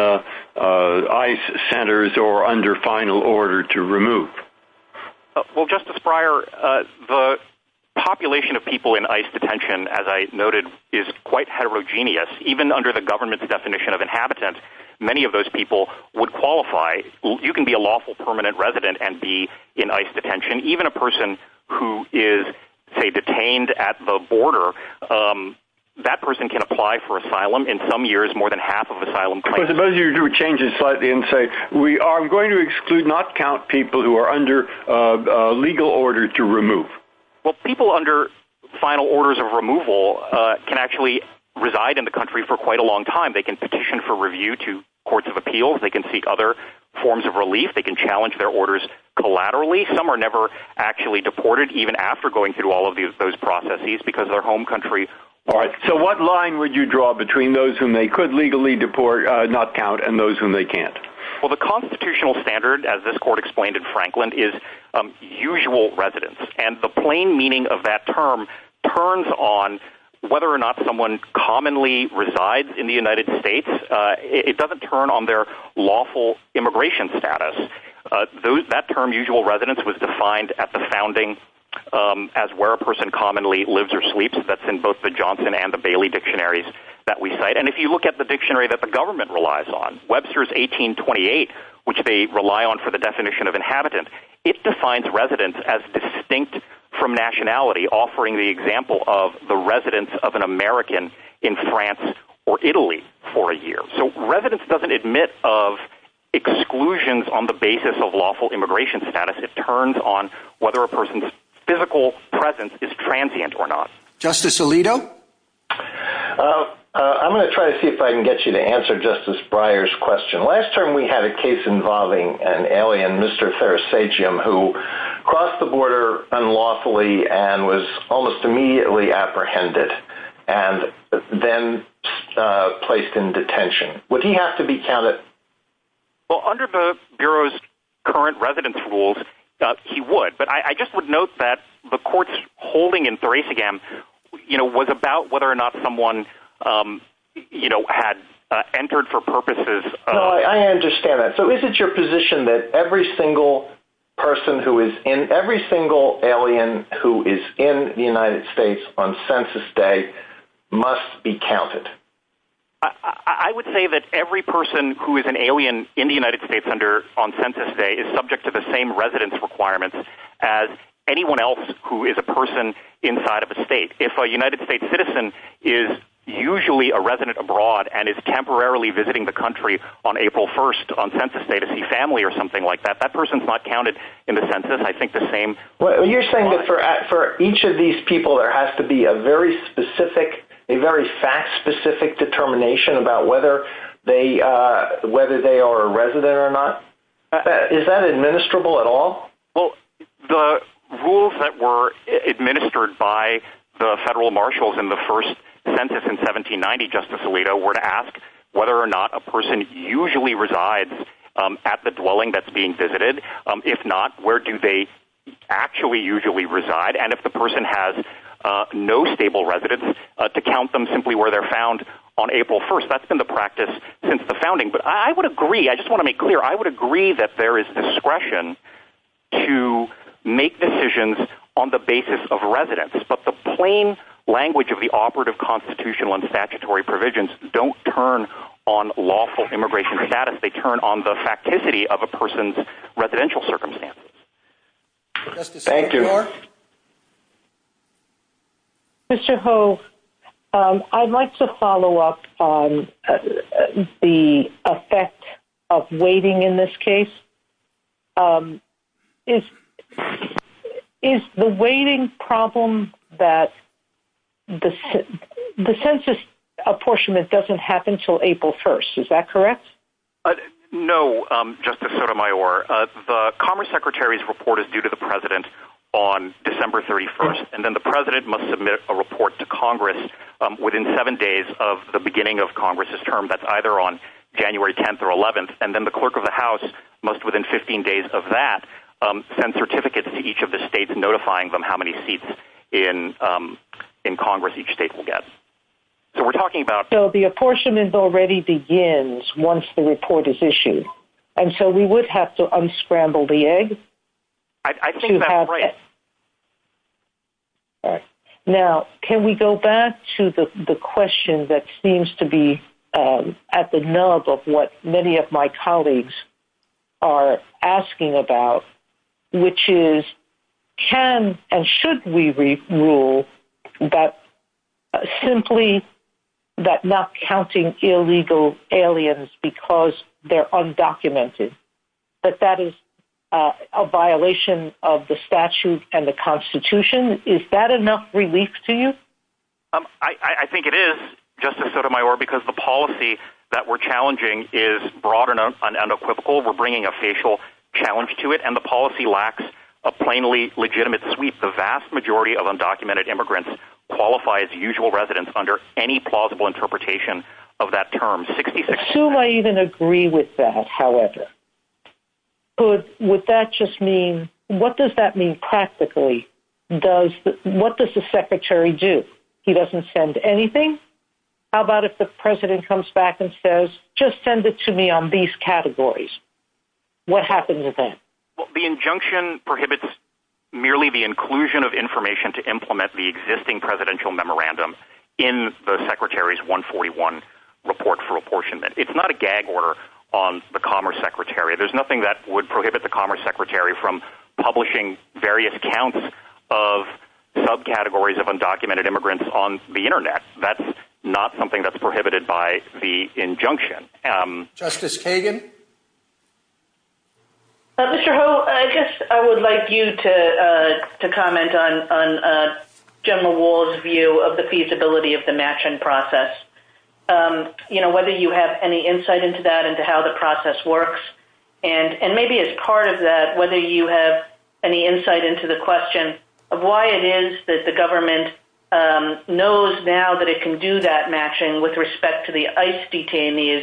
ICE centers or under final order to remove? Well, justice Breyer, the population of people in ICE detention, as I noted, is quite heterogeneous, even under the government's definition of inhabitants. Many of those people would qualify. You can be a lawful permanent resident and be in ICE detention, even a person who is detained at the border. That person can apply for asylum in some years, more than half of asylum. Suppose you do a change in slightly and say, we are going to exclude not count people who are under legal order to remove. Well, people under final orders of removal can actually reside in the country for quite a long time. They can petition for review to courts of appeals. They can seek other forms of relief. They can challenge their orders collaterally. Some are never actually deported, even after going through all of those processes because their home country. All right. So what line would you draw between those whom they could legally deport not count and those whom they can't? Well, the constitutional standard, as this court explained in Franklin, is usual residents. And the plain meaning of that term turns on whether or not someone commonly resides in the United States. It doesn't turn on their lawful immigration status. That term, usual residents, was defined at the founding as where a person commonly lives or sleeps. That's in both the Johnson and the Bailey dictionaries that we cite. And if you look at the dictionary that the government relies on, Webster's 1828, which they rely on for the definition of inhabitant, it defines residents as distinct from nationality, offering the example of the residence of an American in France or Italy for a year. So residents doesn't admit of exclusions on the basis of lawful immigration status. It turns on whether a person's physical presence is transient or not. Justice Alito. I'm going to try to see if I can get you to answer Justice Breyer's question. Last term, we had a case involving an alien, Mr. Ferris, say Jim, who crossed the border unlawfully and was almost immediately apprehended and then placed in detention. Would he have to be counted? Well, under the Bureau's current residence rules, he would. But I just would note that the court's holding in Thracian, you know, was about whether or not someone, you know, had entered for purposes. I understand that. So is it your position that every single person who is in every single alien who is in the United States on census day must be counted? I would say that every person who is an alien in the United States under on census day is subject to the same residence requirements as anyone else who is a person inside of a state. If a United States citizen is usually a resident abroad and is temporarily visiting the country on April 1st on census day to see family or something like that, that person's not counted in the census. You're saying that for each of these people, there has to be a very specific, a very fact specific determination about whether they, whether they are a resident or not. Is that administrable at all? Well, the rules that were administered by the federal marshals in the first census in 1790, Justice Alito were to ask whether or not a person usually resides at the dwelling that's being visited. If not, where do they actually usually reside? And if the person has no stable residence to count them simply where they're found on April 1st, that's been the practice since the founding. But I would agree. I just want to make clear. I would agree that there is discretion to make decisions on the basis of residence, but the plain language of the operative constitutional and statutory provisions don't turn on lawful immigration status. They turn on the facticity of a person's residential circumstance. Mr. Ho I'd like to follow up on the effect of waiting. In this case is, is the waiting problem that the, the census apportionment doesn't happen until April 1st. Is that correct? No, just to sort of my or the commerce secretary's report is due to the president on December 31st. And then the president must submit a report to Congress within seven days of the beginning of Congress's term. That's either on January 10th or 11th. And then the clerk of the house must within 15 days of that send certificates to each of the states, notifying them how many seats in in Congress, each state will get. So we're talking about the apportionment already begins. Once the report is issued. And so we would have to unscramble the egg. Now, can we go back to the, the question that seems to be at the nub of what many of my colleagues are asking about, which is can, and should we read rule that simply that not counting illegal aliens, because they're undocumented, but that is a violation of the statute and the constitution. Is that enough relief to you? I think it is just a set of my work because the policy that we're challenging is broad enough. We're bringing a facial challenge to it and the policy lacks a plainly legitimate sweep. The vast majority of undocumented immigrants qualify as usual residents under any plausible interpretation of that term. 66. I even agree with that. However, Good. Would that just mean, what does that mean? Practically does what does the secretary do? He doesn't send anything. How about if the president comes back and says, just send it to me on these categories. What happens with that? The injunction prohibits merely the inclusion of information to implement the existing presidential memorandum in the secretary's one 41 report for apportionment. It's not a gag order on the commerce secretary. There's nothing that would prohibit the commerce secretary from publishing various accounts of subcategories of undocumented immigrants on the internet. That's not something that's prohibited by the injunction. Justice Hagan. I guess I would like you to, to comment on, on general wall's view of the feasibility of the matching process. You know, whether you have any insight into that and to how the process works and, and maybe as part of that, whether you have any insight into the question of why it is that the government knows now that it can do that matching with respect to the ice detainees,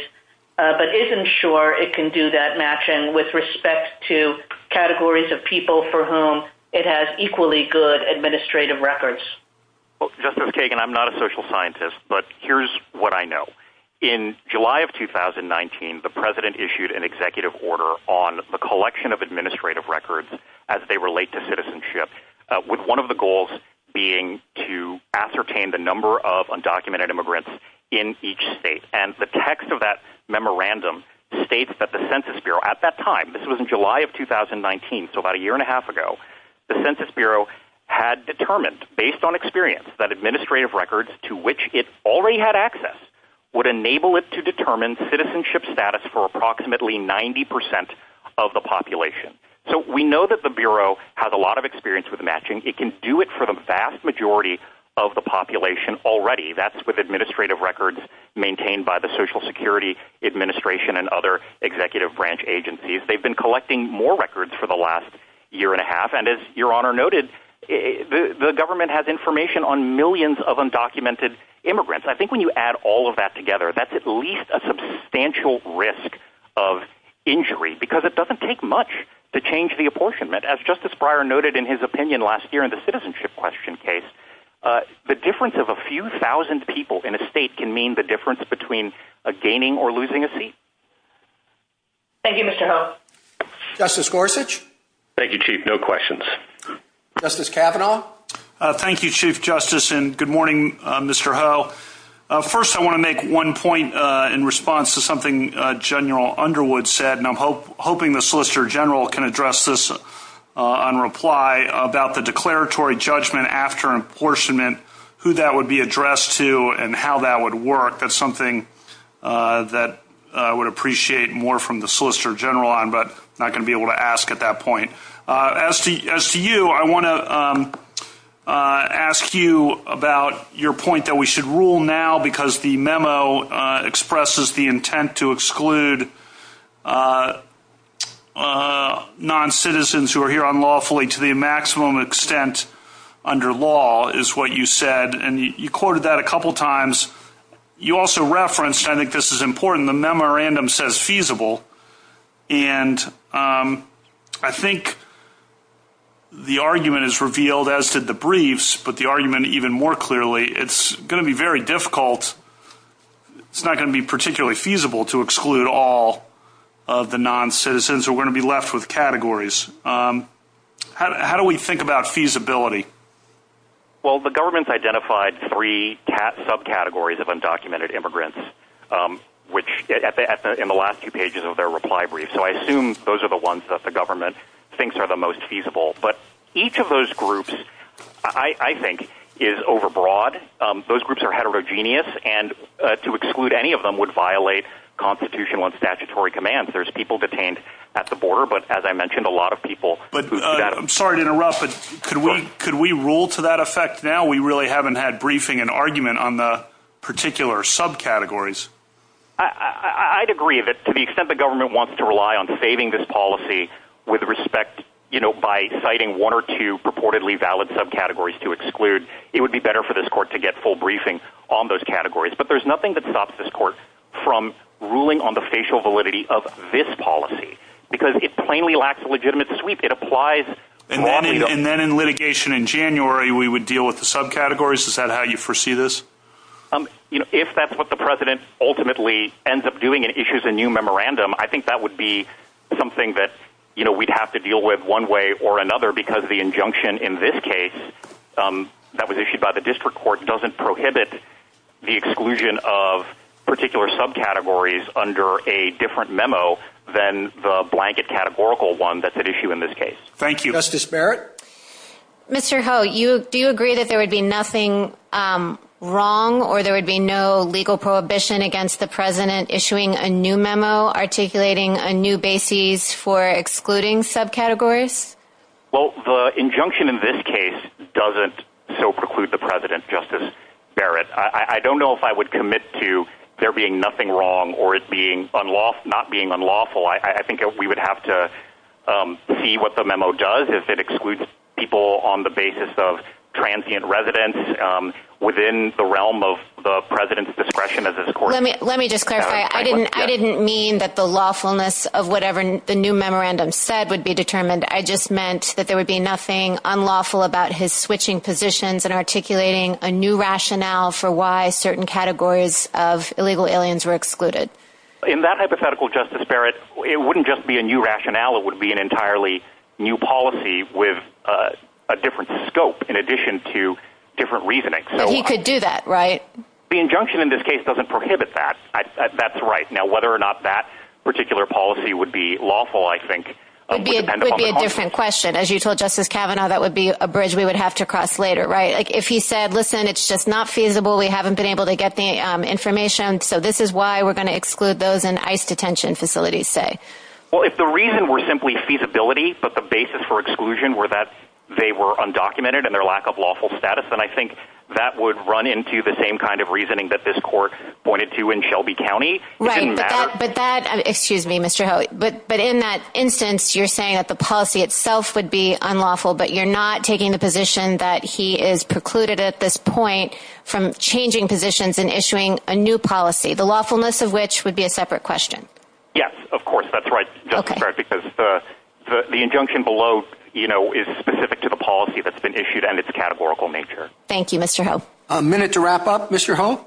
but isn't sure it can do that matching with respect to categories of people for whom it has equally good administrative records. Well, just as Kagan, I'm not a social scientist, but here's what I know in July of 2019, the president issued an executive order on the collection of administrative records as they relate to citizenship with one of the goals being to ascertain the number of undocumented immigrants in each state. And the text of that memorandum states that the census Bureau at that time, this was in July of 2019. So about a year and a half ago, the census Bureau had determined based on experience that administrative records to which it already had access would enable it to determine citizenship status for approximately 90% of the population. So we know that the Bureau has a lot of experience with matching. It can do it for the vast majority of the population already. That's with administrative records maintained by the social security administration and other executive branch agencies. They've been collecting more records for the last year and a half. And as your honor noted, the government has information on millions of undocumented immigrants. I think when you add all of that together, that's at least a substantial risk of injury because it doesn't take much to change the apportionment as justice prior noted in his opinion last year in the citizenship question case, the difference of a few thousand people in a state can mean the difference between a gaining or losing a seat. Thank you, Mr. Justice Gorsuch. Thank you, chief. No questions. Justice Kavanaugh. Thank you, chief justice. And good morning, Mr. First, I want to make one point in response to something general Underwood said, and I'm hope, hoping the solicitor general can address this on reply about the declaratory judgment after apportionment, who that would be addressed to and how that would work. That's something that I would appreciate more from the solicitor general on, but not going to be able to ask at that point as to, as to you, I want to ask you about your point that we should rule now, because the memo expresses the intent to exclude non-citizens who are here on lawfully to the maximum extent under law is what you said. And you quoted that a couple of times. You also referenced, I think this is important. The memorandum says feasible and I think the argument is revealed as did the briefs, but the argument even more clearly, it's going to be very difficult. It's not going to be particularly feasible to exclude all of the non-citizens are going to be left with categories. How do we think about feasibility? Well, the government's identified three subcategories of undocumented immigrants, which in the last few pages of their reply brief. So I assume those are the ones that the government thinks are the most feasible, but each of those groups, I think is overbroad. Those groups are heterogeneous and to exclude any of them would violate constitutional and statutory commands. There's people detained at the border, but as I mentioned, a lot of people, but I'm sorry to interrupt, but could we, could we roll to that effect? Now we really haven't had briefing and argument on the particular subcategories. I'd agree with it to the extent the government wants to rely on saving this policy with respect, you know, by citing one or two purportedly valid subcategories to exclude, it would be better for this court to get full briefing on those categories, but there's nothing that stops this court from ruling on the facial validity of this policy because it plainly lacks a legitimate sweep. It applies. And then in litigation in January, we would deal with the subcategories. Is that how you foresee this? If that's what the president ultimately ends up doing and issues a new memorandum, I think that would be something that, you know, we'd have to deal with one way or another because the injunction in this case that was issued by the district court doesn't prohibit the exclusion of particular subcategories under a different memo than the blanket categorical one that's at issue in this case. Thank you. Justice Barrett. Mr. Ho, you, do you agree that there would be nothing wrong or there would be no legal prohibition against the president issuing a new memo, articulating a new basis for excluding subcategories? Well, the injunction in this case doesn't so preclude the president, Justice Barrett. I don't know if I would commit to there being nothing wrong or it being unlawful, not being unlawful. I think we would have to see what the memo does. If it excludes people on the basis of transient residents within the realm of the president's discretion of this court. Let me just clarify. I didn't, I didn't mean that the lawfulness of whatever the new memorandum said would be determined. I just meant that there would be nothing unlawful about his switching positions and articulating a new rationale for why certain categories of illegal aliens were excluded. In that hypothetical, Justice Barrett, it wouldn't just be a new rationale. It would be an entirely new policy with a different scope in addition to different reasoning. He could do that, right? The injunction in this case doesn't prohibit that. That's right. Now, whether or not that particular policy would be lawful, I think. It would be a different question. As you told Justice Kavanaugh, that would be a bridge we would have to cross later, right? Like if he said, listen, it's just not feasible. We haven't been able to get the information. So this is why we're going to exclude those in ice detention facilities. Say, well, if the reason we're simply feasibility, but the basis for exclusion were that they were undocumented and their lack of lawful status. And I think that would run into the same kind of reasoning that this court pointed to in Shelby County. But that, excuse me, Mr. Howie, but, but in that instance, you're saying that the policy itself would be unlawful, but you're not taking the position that he is precluded at this point from changing positions and issuing a new policy, the lawfulness of which would be a separate question. Yes, of course. That's right. Because the, the, the injunction below, you know, is specific to the policy that's been issued and it's a categorical nature. Thank you, Mr. A minute to wrap up, Mr.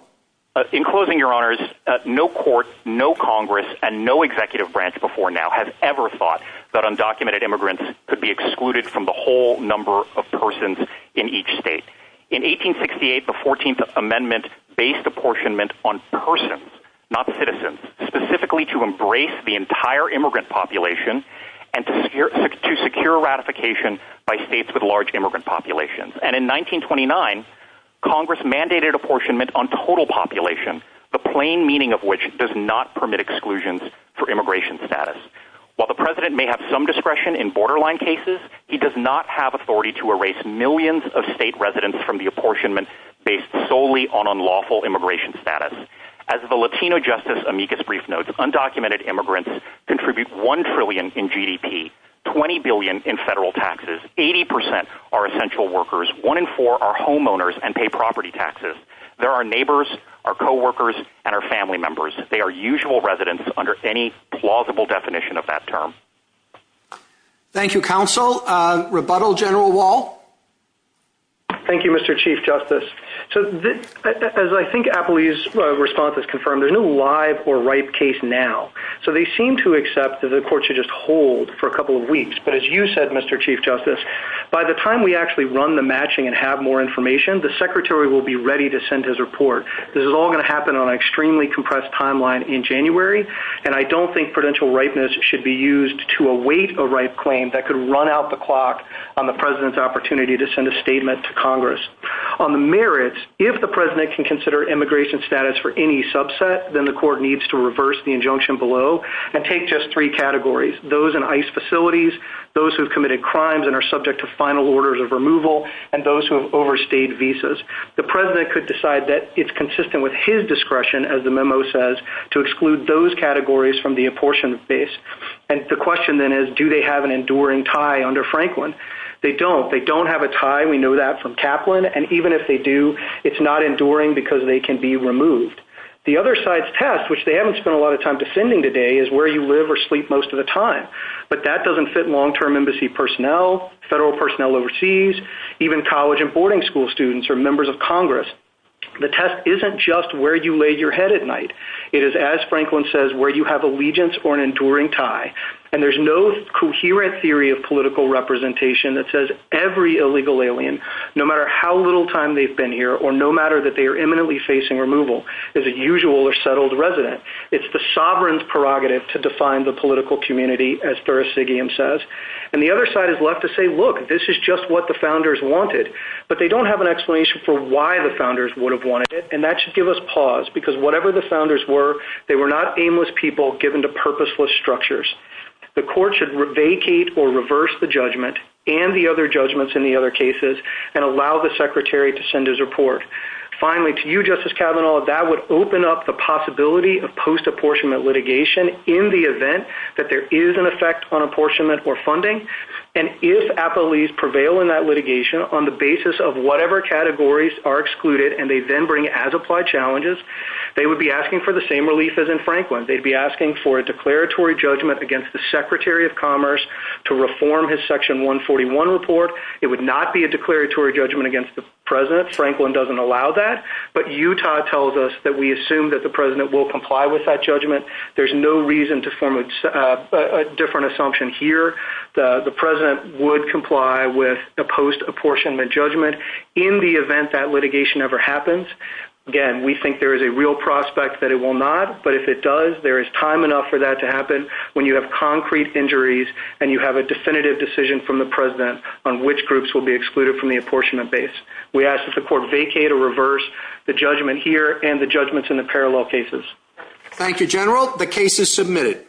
In closing your honors, no court, no Congress and no executive branch before now has ever thought that undocumented immigrants could be excluded from the whole number of persons in each state in 1868, the 14th amendment based apportionment on person, not the citizens specifically to embrace the entire immigrant population and to secure, to secure ratification by States with large immigrant populations. And in 1929, Congress mandated apportionment on total population, a plain meaning of which does not permit exclusions for immigration status. While the president may have some discretion in borderline cases, he does not have authority to erase millions of state residents from the apportionment based solely on unlawful immigration status. As the Latino justice amicus brief notes, undocumented immigrants contribute 1 trillion in GDP, 20 billion in federal taxes, 80% are essential workers. One in four are homeowners and pay property taxes. There are neighbors, our coworkers and our family members. They are usual residents under any plausible definition of that term. Thank you. Counsel rebuttal general wall. Thank you, Mr. Chief justice. So as I think Appleby's response is confirmed, there's no live or ripe case now. So they seem to accept that the court should just hold for a couple of weeks. But as you said, Mr. Chief justice, by the time we actually run the matching and have more information, the secretary will be ready to send his report. This is all going to happen on an extremely compressed timeline in January. And I don't think prudential ripeness should be used to await a right claim that could run out the clock on the president's opportunity to send a statement to Congress on the merits. If the president can consider immigration status for any subset, then the court needs to reverse the injunction below and take just three categories. Those in ice facilities, those who've committed crimes and are subject to final orders of removal. And those who have overstayed visas, the president could decide that it's consistent with his discretion. As the memo says to exclude those categories from the apportionment base. And the question then is, do they have an enduring tie under Franklin? They don't, they don't have a tie. We know that from Kaplan. And even if they do, it's not enduring because they can be removed. The other side's test, which they haven't spent a lot of time defending today is where you live or sleep most of the time, but that doesn't fit long-term embassy personnel, federal personnel overseas, even college and boarding school students are members of Congress. The test isn't just where you lay your head at night. It is as Franklin says, where you have allegiance or an enduring tie. And there's no coherent theory of political representation that says every illegal alien, no matter how little time they've been here, or no matter that they are imminently facing removal, there's a usual or settled resident. It's the sovereign's prerogative to define the political community as they are, as Siggian says. And the other side is left to say, look, this is just what the founders wanted, but they don't have an explanation for why the founders would have wanted it. And that should give us pause because whatever the founders were, they were not aimless people given to purposeless structures. The court should vacate or reverse the judgment and the other judgments in the other cases and allow the secretary to send his report. Finally, to you justice Kavanaugh, that would open up the possibility of post apportionment litigation in the event that there is an effect on apportionment or funding. And if appellees prevail in that litigation on the basis of whatever categories are excluded, and they then bring as applied challenges, they would be asking for the same relief as in Franklin. They'd be asking for a declaratory judgment against the secretary of commerce to reform his section one 41 report. It would not be a declaratory judgment against the president. Franklin doesn't allow that, but Utah tells us that we assume that the president will comply with that reason to form a different assumption here. The president would comply with the post apportionment judgment in the event that litigation ever happens. Again, we think there is a real prospect that it will not, but if it does, there is time enough for that to happen when you have concrete injuries and you have a definitive decision from the president on which groups will be excluded from the apportionment base. We asked if the court vacate or reverse the judgment here and the judgments in the parallel cases. Thank you, general. The case is submitted.